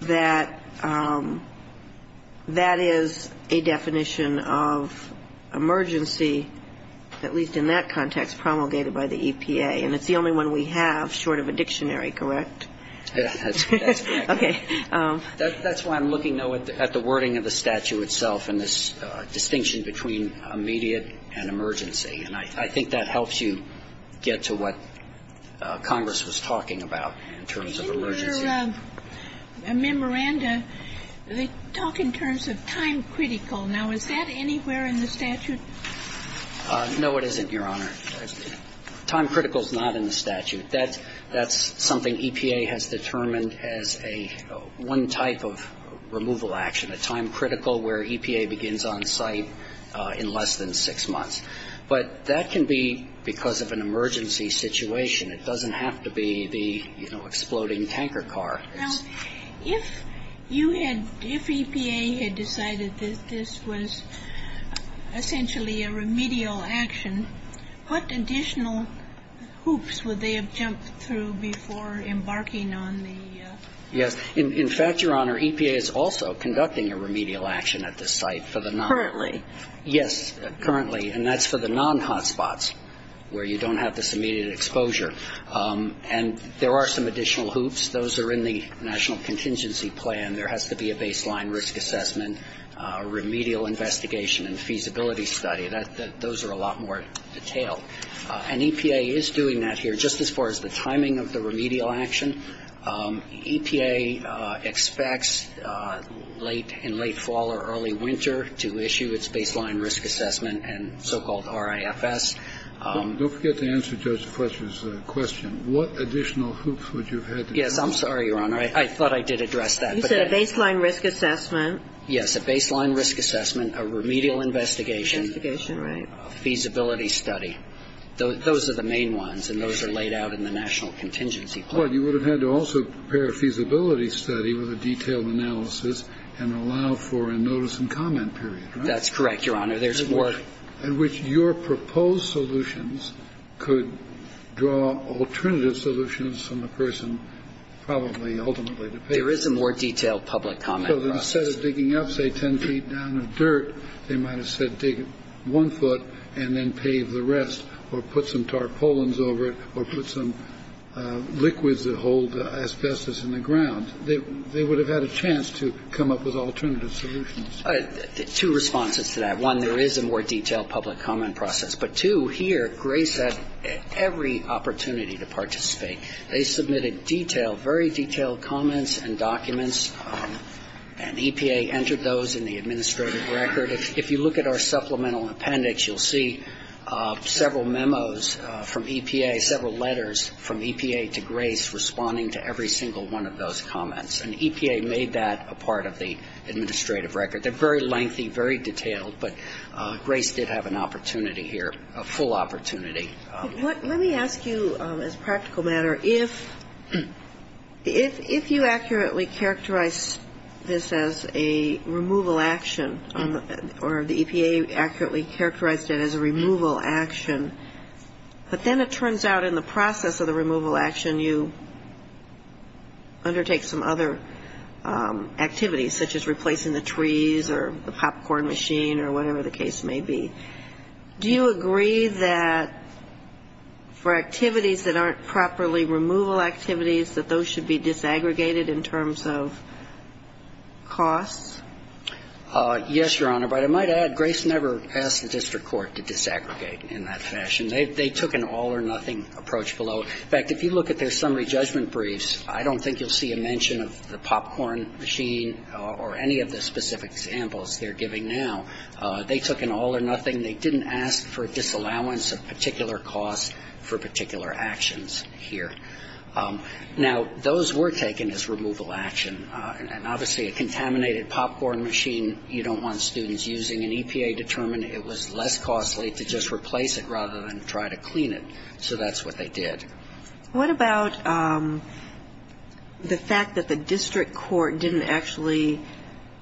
that that is a definition of emergency, at least in that context, promulgated by the EPA. And it's the only one we have short of a dictionary, correct? That's correct. Okay. That's why I'm looking, though, at the wording of the statute itself and this distinction between immediate and emergency. And I think that helps you get to what Congress was talking about in terms of emergency. In your memoranda, they talk in terms of time critical. Now, is that anywhere in the statute? No, it isn't, Your Honor. Time critical is not in the statute. That's something EPA has determined as one type of removal action, a time critical where EPA begins on site in less than six months. But that can be because of an emergency situation. It doesn't have to be the, you know, exploding tanker car. Now, if you had, if EPA had decided that this was essentially a remedial action, what additional hoops would they have jumped through before embarking on the? Yes. In fact, Your Honor, EPA is also conducting a remedial action at this site for the non- Currently. Yes, currently. And that's for the non-hotspots where you don't have this immediate exposure. And there are some additional hoops. Those are in the National Contingency Plan. There has to be a baseline risk assessment, remedial investigation, and feasibility study. Those are a lot more detailed. And EPA is doing that here just as far as the timing of the remedial action. EPA expects late, in late fall or early winter, to issue its baseline risk assessment and so-called RIFS. Don't forget to answer Judge Fletcher's question. What additional hoops would you have had to jump through? Yes, I'm sorry, Your Honor. I thought I did address that. You said a baseline risk assessment. Yes, a baseline risk assessment, a remedial investigation. Investigation, right. A feasibility study. Those are the main ones, and those are laid out in the National Contingency Plan. Well, you would have had to also prepare a feasibility study with a detailed analysis and allow for a notice and comment period, right? That's correct, Your Honor. There's more. In which your proposed solutions could draw alternative solutions from the person probably ultimately to pay for. There is a more detailed public comment process. So instead of digging up, say, 10 feet down of dirt, they might have said dig one foot and then pave the rest or put some tarpaulins over it or put some liquids that hold asbestos in the ground. They would have had a chance to come up with alternative solutions. Two responses to that. One, there is a more detailed public comment process. But, two, here, Grace had every opportunity to participate. They submitted detailed, very detailed comments and documents, and EPA entered those in the administrative record. If you look at our supplemental appendix, you'll see several memos from EPA, several letters from EPA to Grace responding to every single one of those comments. And EPA made that a part of the administrative record. They're very lengthy, very detailed. But Grace did have an opportunity here, a full opportunity. Let me ask you, as a practical matter, if you accurately characterize this as a removal action, or the EPA accurately characterized it as a removal action, but then it turns out in the process of the removal action you undertake some other activities, such as replacing the trees or the popcorn machine or whatever the case may be, do you agree that for activities that aren't properly removal activities, that those should be disaggregated in terms of costs? Yes, Your Honor. But I might add, Grace never asked the district court to disaggregate in that fashion. They took an all-or-nothing approach below. In fact, if you look at their summary judgment briefs, I don't think you'll see a mention of the popcorn machine or any of the specific examples they're giving now. They took an all-or-nothing. They didn't ask for a disallowance of particular costs for particular actions here. Now, those were taken as removal action. And obviously a contaminated popcorn machine you don't want students using. And EPA determined it was less costly to just replace it rather than try to clean it. So that's what they did. What about the fact that the district court didn't actually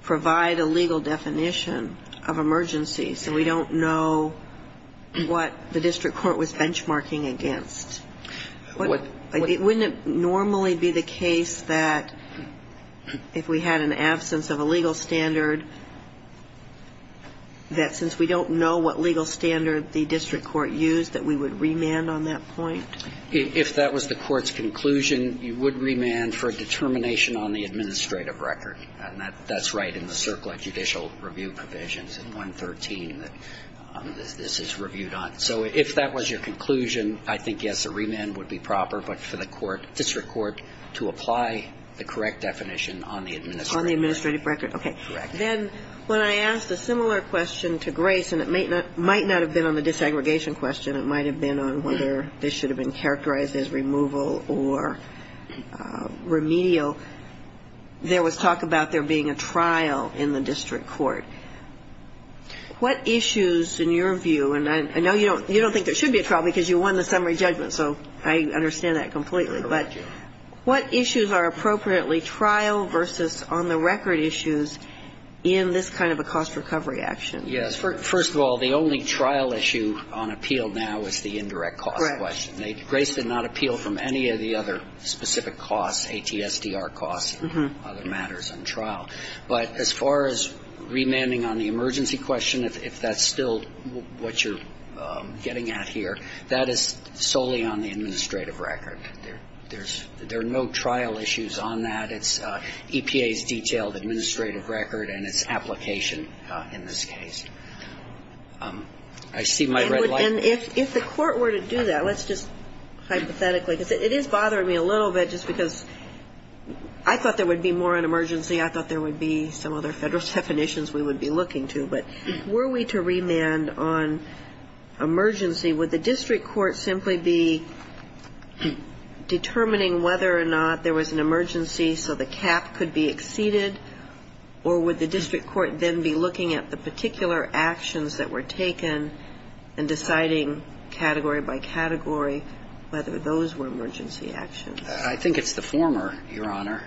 provide a legal definition of emergency? So we don't know what the district court was benchmarking against. Wouldn't it normally be the case that if we had an absence of a legal standard, that since we don't know what legal standard the district court used, that we would remand on that point? If that was the court's conclusion, you would remand for a determination on the administrative record. And that's right in the circle of judicial review provisions in 113 that this is reviewed on. So if that was your conclusion, I think, yes, a remand would be proper, but for the district court to apply the correct definition on the administrative record. On the administrative record. Okay. Correct. Then when I asked a similar question to Grace, and it might not have been on the disaggregation question, it might have been on whether this should have been characterized as removal or remedial, there was talk about there being a trial in the district court. What issues, in your view, and I know you don't think there should be a trial because you won the summary judgment, so I understand that completely, but what issues are appropriately trial versus on-the-record issues in this kind of a cost recovery action? Yes. First of all, the only trial issue on appeal now is the indirect cost question. Right. Grace did not appeal from any of the other specific costs, ATSDR costs and other matters on trial. But as far as remanding on the emergency question, if that's still what you're getting at here, that is solely on the administrative record. There's no trial issues on that. It's EPA's detailed administrative record and its application in this case. I see my red light. And if the court were to do that, let's just hypothetically, because it is bothering me a little bit just because I thought there would be more on emergency. I thought there would be some other federal definitions we would be looking to. But were we to remand on emergency, would the district court simply be determining whether or not there was an emergency so the cap could be exceeded, or would the district court then be looking at the particular actions that were taken and deciding category by category whether those were emergency actions? I think it's the former, Your Honor.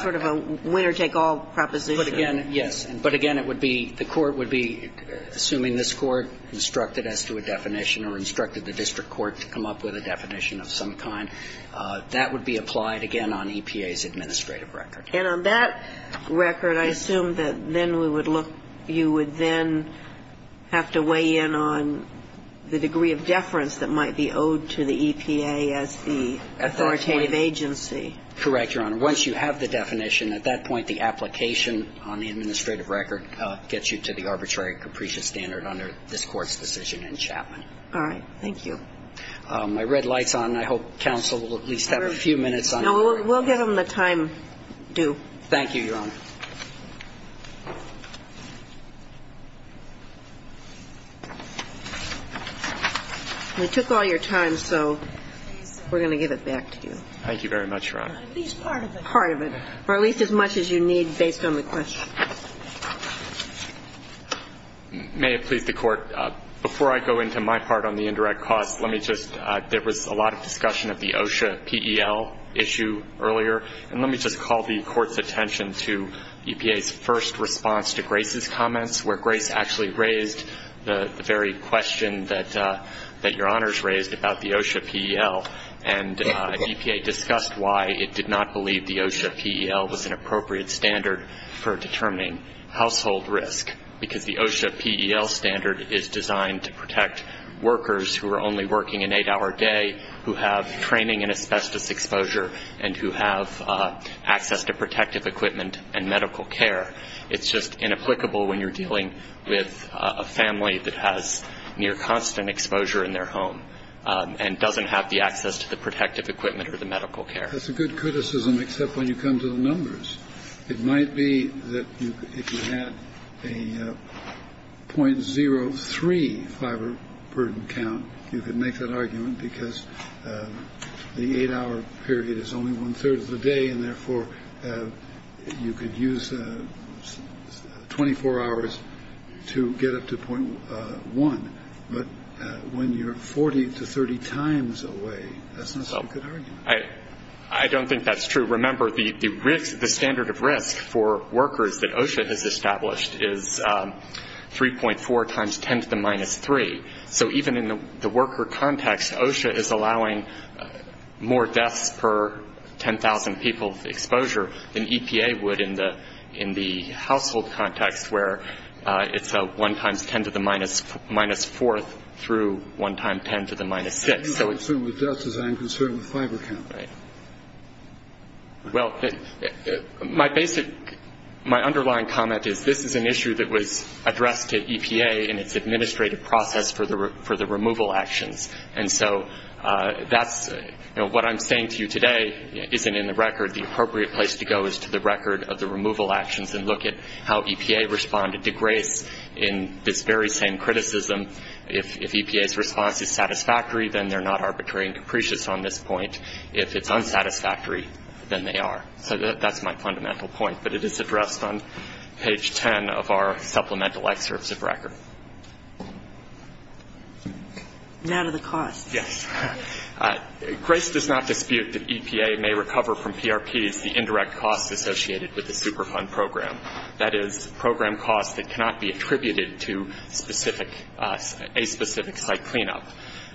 Sort of a winner-take-all proposition. But again, yes. But again, it would be the court would be, assuming this court instructed us to a definition or instructed the district court to come up with a definition of some kind, that would be applied again on EPA's administrative record. And on that record, I assume that then we would look, you would then have to weigh in on the degree of deference that might be owed to the EPA as the authoritative agency. Correct, Your Honor. Once you have the definition, at that point, the application on the administrative record gets you to the arbitrary capricious standard under this Court's decision in Chapman. All right. Thank you. My red light's on. I hope counsel will at least have a few minutes on it. No, we'll give him the time due. Thank you, Your Honor. We took all your time, so we're going to give it back to you. Thank you very much, Your Honor. At least part of it. Part of it. Or at least as much as you need based on the question. May it please the Court, before I go into my part on the indirect costs, there was a lot of discussion of the OSHA PEL issue earlier. And let me just call the Court's attention to EPA's first response to Grace's comments, where Grace actually raised the very question that Your Honors raised about the OSHA PEL. And EPA discussed why it did not believe the OSHA PEL was an appropriate standard for determining household risk, because the OSHA PEL standard is designed to protect workers who are only working an eight-hour day, who have training in asbestos exposure, and who have access to protective equipment and medical care. It's just inapplicable when you're dealing with a family that has near constant exposure in their home and doesn't have the access to the protective equipment or the medical care. It might be that if you had a .03 fiber burden count, you could make that argument because the eight-hour period is only one third of the day, and therefore you could use 24 hours to get up to .1. But when you're 40 to 30 times away, that's not a good argument. I don't think that's true. Remember, the standard of risk for workers that OSHA has established is 3.4 times 10 to the minus 3. So even in the worker context, OSHA is allowing more deaths per 10,000 people's exposure than EPA would in the household context where it's 1 times 10 to the minus 4th through 1 times 10 to the minus 6th. I'm not concerned with deaths as I am concerned with fiber count. Well, my underlying comment is this is an issue that was addressed to EPA in its administrative process for the removal actions. And so what I'm saying to you today isn't in the record. The appropriate place to go is to the record of the removal actions and look at how EPA responded to grace in this very same criticism. If EPA's response is satisfactory, then they're not arbitrary and capricious on this point. If it's unsatisfactory, then they are. So that's my fundamental point. But it is addressed on page 10 of our supplemental excerpts of record. Now to the cost. Yes. Grace does not dispute that EPA may recover from PRPs the indirect costs associated with the Superfund program. That is, program costs that cannot be attributed to a specific site cleanup.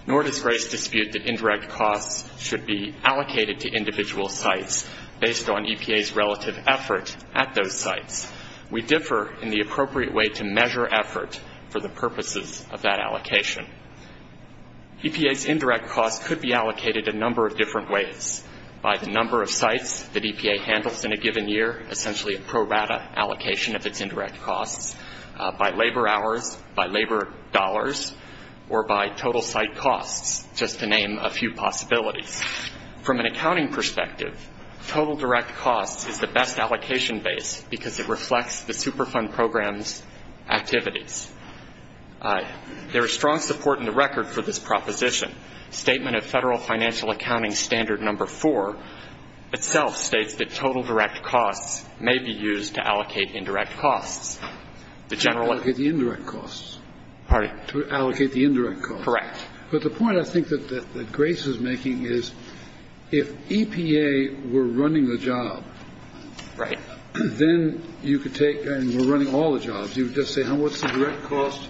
Nor does Grace dispute that indirect costs should be allocated to individual sites based on EPA's relative effort at those sites. We differ in the appropriate way to measure effort for the purposes of that allocation. EPA's indirect costs could be allocated a number of different ways. By the number of sites that EPA handles in a given year, essentially a pro rata allocation of its indirect costs. By labor hours, by labor dollars, or by total site costs, just to name a few possibilities. From an accounting perspective, total direct costs is the best allocation base because it reflects the Superfund program's activities. There is strong support in the record for this proposition. Statement of Federal Financial Accounting Standard Number 4 itself states that total direct costs may be used to allocate indirect costs. To allocate the indirect costs. Pardon? To allocate the indirect costs. Correct. But the point I think that Grace is making is if EPA were running the job, then you could take, and were running all the jobs, you would just say what's the direct cost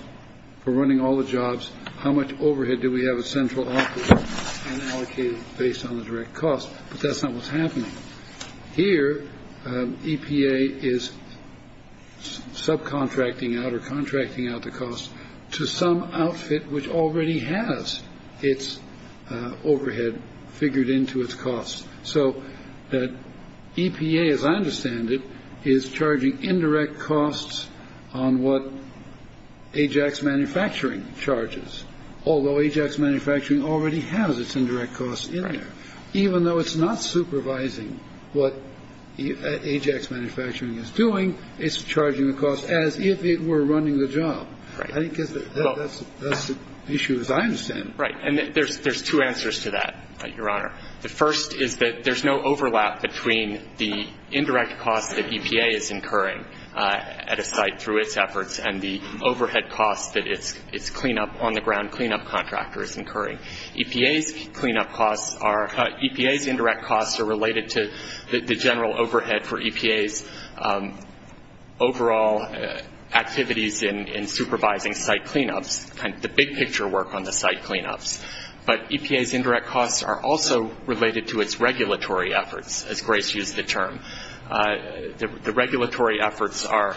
for running all the jobs, how much overhead do we have a central office allocated based on the direct costs. But that's not what's happening here. EPA is subcontracting out or contracting out the cost to some outfit which already has its overhead figured into its costs. So that EPA, as I understand it, is charging indirect costs on what Ajax Manufacturing charges. Although Ajax Manufacturing already has its indirect costs in there. Even though it's not supervising what Ajax Manufacturing is doing, it's charging the cost as if it were running the job. Right. I think that's the issue as I understand it. Right. And there's two answers to that, Your Honor. The first is that there's no overlap between the indirect costs that EPA is incurring at a site through its efforts and the overhead costs that its on-the-ground cleanup contractor is incurring. EPA's indirect costs are related to the general overhead for EPA's overall activities in supervising site cleanups, the big picture work on the site cleanups. But EPA's indirect costs are also related to its regulatory efforts, as Grace used the term. The regulatory efforts are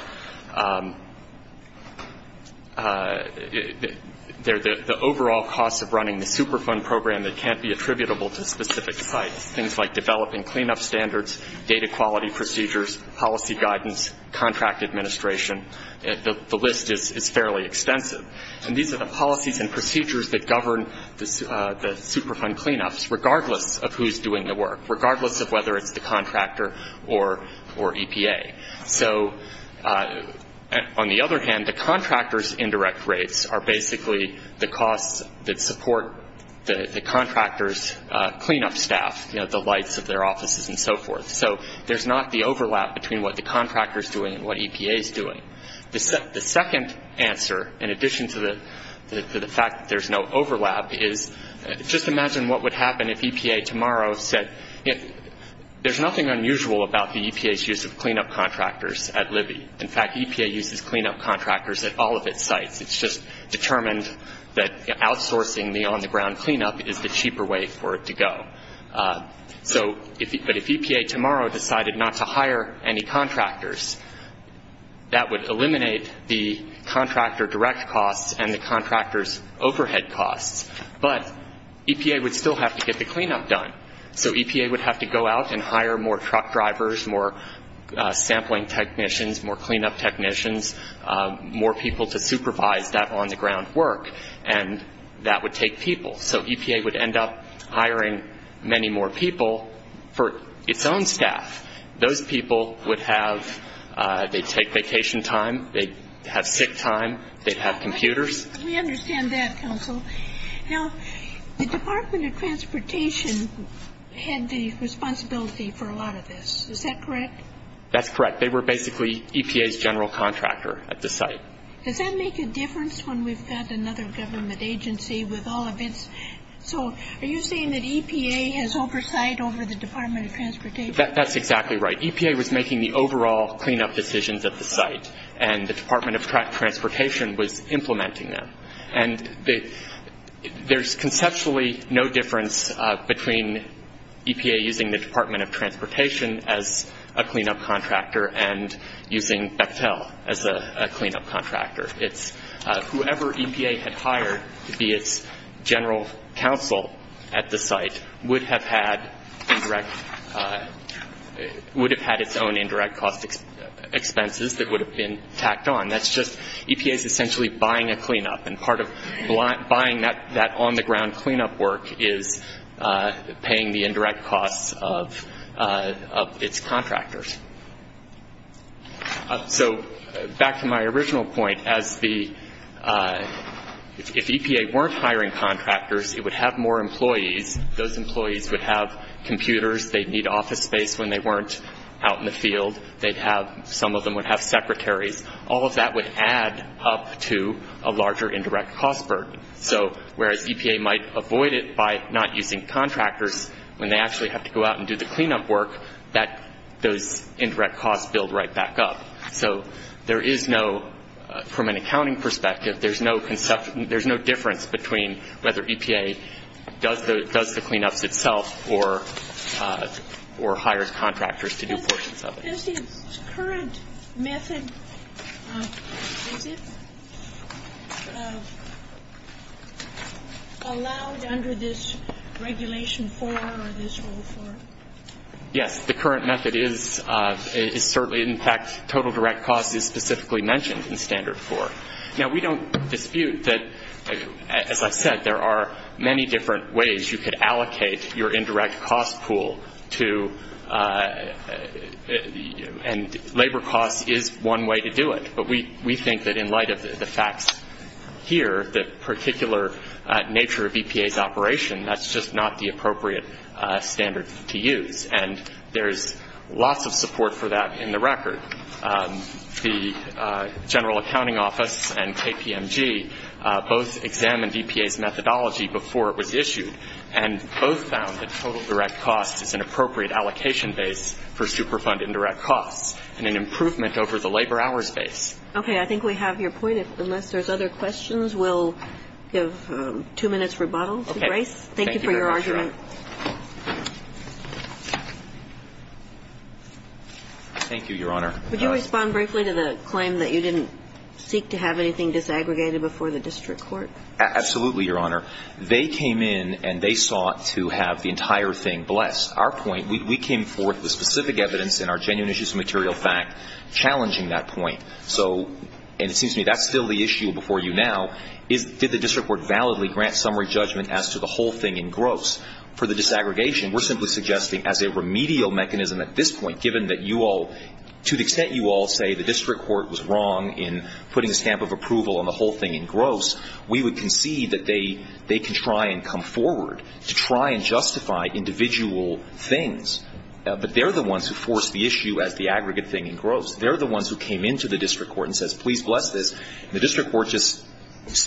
the overall costs of running the Superfund program that can't be attributable to specific sites, things like developing cleanup standards, data quality procedures, policy guidance, contract administration. The list is fairly extensive. And these are the policies and procedures that govern the Superfund cleanups, regardless of who's doing the work, regardless of whether it's the contractor or EPA. So on the other hand, the contractor's indirect rates are basically the costs that support the contractor's cleanup staff, you know, the lights of their offices and so forth. So there's not the overlap between what the contractor is doing and what EPA is doing. The second answer, in addition to the fact that there's no overlap, is just imagine what would happen if EPA tomorrow said, you know, there's nothing unusual about the EPA's use of cleanup contractors at Libby. In fact, EPA uses cleanup contractors at all of its sites. It's just determined that outsourcing the on-the-ground cleanup is the cheaper way for it to go. But if EPA tomorrow decided not to hire any contractors, that would eliminate the contractor direct costs and the contractor's overhead costs. But EPA would still have to get the cleanup done. So EPA would have to go out and hire more truck drivers, more sampling technicians, more cleanup technicians, more people to supervise that on-the-ground work, and that would take people. So EPA would end up hiring many more people for its own staff. Those people would have, they'd take vacation time, they'd have sick time, they'd have computers. We understand that, counsel. Now, the Department of Transportation had the responsibility for a lot of this. Is that correct? That's correct. They were basically EPA's general contractor at the site. Does that make a difference when we've got another government agency with all of its? So are you saying that EPA has oversight over the Department of Transportation? That's exactly right. EPA was making the overall cleanup decisions at the site, and the Department of Transportation was implementing them. And there's conceptually no difference between EPA using the Department of Transportation as a cleanup contractor and using Bechtel as a cleanup contractor. It's whoever EPA had hired to be its general counsel at the site would have had indirect, would have had its own indirect cost expenses that would have been tacked on. That's just, EPA is essentially buying a cleanup, and part of buying that on-the-ground cleanup work is paying the indirect costs of its contractors. So back to my original point, as the, if EPA weren't hiring contractors, it would have more employees. Those employees would have computers. They'd need office space when they weren't out in the field. They'd have, some of them would have secretaries. All of that would add up to a larger indirect cost burden. So whereas EPA might avoid it by not using contractors, when they actually have to go out and do the cleanup work, those indirect costs build right back up. So there is no, from an accounting perspective, there's no difference between whether EPA does the cleanups itself Does the current method, is it allowed under this Regulation 4 or this Rule 4? Yes, the current method is certainly, in fact, total direct costs is specifically mentioned in Standard 4. Now, we don't dispute that, as I said, there are many different ways you could allocate your indirect cost pool to, and labor costs is one way to do it. But we think that in light of the facts here, the particular nature of EPA's operation, that's just not the appropriate standard to use. And there's lots of support for that in the record. The General Accounting Office and KPMG both examined EPA's methodology before it was issued and both found that total direct costs is an appropriate allocation base for Superfund indirect costs and an improvement over the labor hours base. Okay. I think we have your point. Unless there's other questions, we'll give two minutes rebuttal to Grace. Thank you for your argument. Thank you, Your Honor. Would you respond briefly to the claim that you didn't seek to have anything disaggregated before the district court? Absolutely, Your Honor. They came in and they sought to have the entire thing blessed. Our point, we came forth with specific evidence and our genuine issues of material fact challenging that point. So, and it seems to me that's still the issue before you now, is did the district court validly grant summary judgment as to the whole thing in gross? For the disaggregation, we're simply suggesting as a remedial mechanism at this point, given that you all, to the extent you all say the district court was wrong in putting a stamp of approval on the whole thing in gross, we would concede that they can try and come forward to try and justify individual things. But they're the ones who forced the issue as the aggregate thing in gross. They're the ones who came into the district court and says, please bless this. The district court just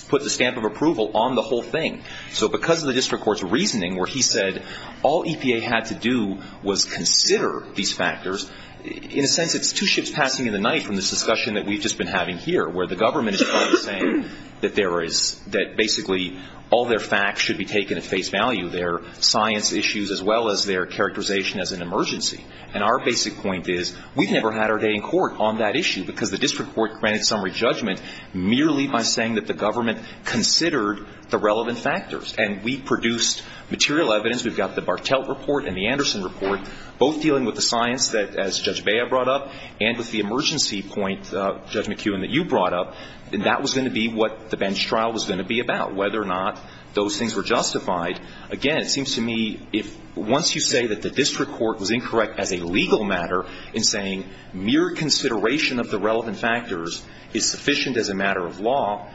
put the stamp of approval on the whole thing. So because of the district court's reasoning where he said all EPA had to do was consider these factors, in a sense it's two ships passing in the night from this discussion that we've just been having here, where the government is saying that there is, that basically all their facts should be taken at face value, their science issues as well as their characterization as an emergency. And our basic point is we've never had our day in court on that issue because the district court granted summary judgment merely by saying that the government considered the relevant factors. And we produced material evidence. We've got the Bartelt report and the Anderson report, both dealing with the science that, as Judge Bea brought up, and with the emergency point, Judge McKeown, that you brought up, that was going to be what the bench trial was going to be about, whether or not those things were justified. Again, it seems to me if once you say that the district court was incorrect as a legal matter in saying mere consideration of the relevant factors is sufficient as a matter of law,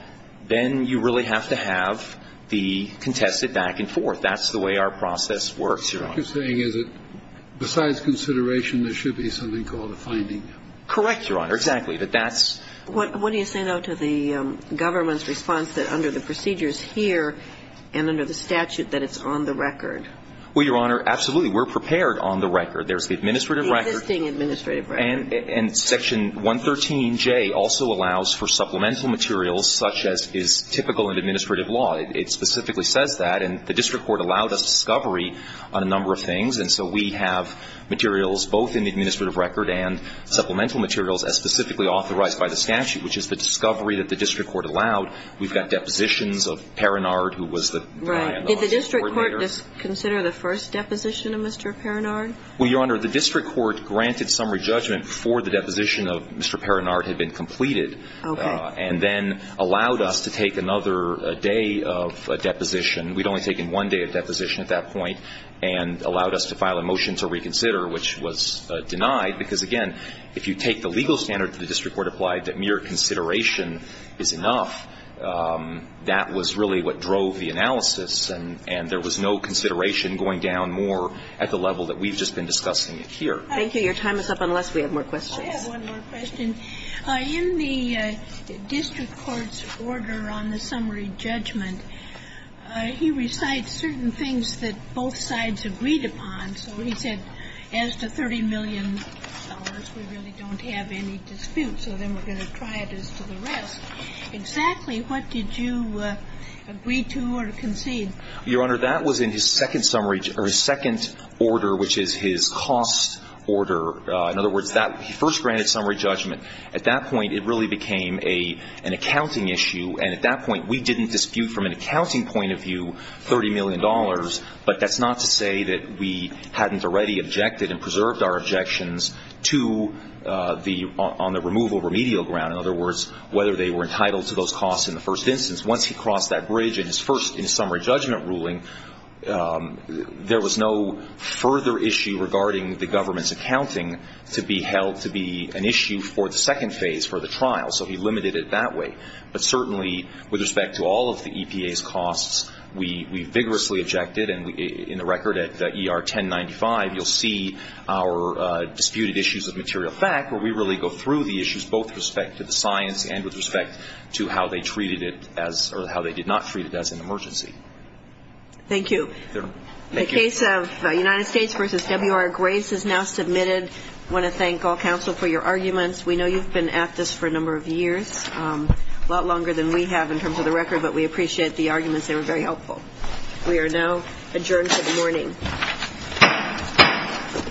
then you really have to have the contested back and forth. That's the way our process works, Your Honor. What you're saying is that besides consideration, there should be something called a finding. Correct, Your Honor. Exactly. But that's what you say, though, to the government's response that under the procedures here and under the statute that it's on the record. Well, Your Honor, absolutely. We're prepared on the record. There's the administrative record. The existing administrative record. And Section 113J also allows for supplemental materials such as is typical in administrative law. It specifically says that. And the district court allowed us discovery on a number of things. And so we have materials both in the administrative record and supplemental materials as specifically authorized by the statute, which is the discovery that the district court allowed. We've got depositions of Perinard, who was the lawyer and the office coordinator. Right. Did the district court consider the first deposition of Mr. Perinard? Well, Your Honor, the district court granted summary judgment before the deposition of Mr. Perinard had been completed. Okay. And then allowed us to take another day of deposition. We'd only taken one day of deposition at that point and allowed us to file a motion to reconsider, which was denied, because, again, if you take the legal standard that the district court applied, that mere consideration is enough, that was really what drove the analysis. And there was no consideration going down more at the level that we've just been discussing here. Thank you. Your time is up, unless we have more questions. I have one more question. In the district court's order on the summary judgment, he recites certain things that both sides agreed upon. So he said, as to $30 million, we really don't have any dispute, so then we're going to try it as to the rest. Exactly what did you agree to or concede? Your Honor, that was in his second summary or his second order, which is his cost order. In other words, that he first granted summary judgment. At that point, it really became an accounting issue. And at that point, we didn't dispute from an accounting point of view $30 million, but that's not to say that we hadn't already objected and preserved our objections on the removal remedial ground, in other words, whether they were entitled to those costs in the first instance. Once he crossed that bridge in his first summary judgment ruling, there was no further issue regarding the government's accounting to be held to be an issue for the second phase, for the trial. So he limited it that way. But certainly, with respect to all of the EPA's costs, we vigorously objected. And in the record at ER 1095, you'll see our disputed issues of material fact, where we really go through the issues, both with respect to the science and with respect to how they treated it as or how they did not treat it as an emergency. Thank you. The case of United States v. W.R. Grace is now submitted. I want to thank all counsel for your arguments. We know you've been at this for a number of years, a lot longer than we have in terms of the record, but we appreciate the arguments. They were very helpful. We are now adjourned for the morning.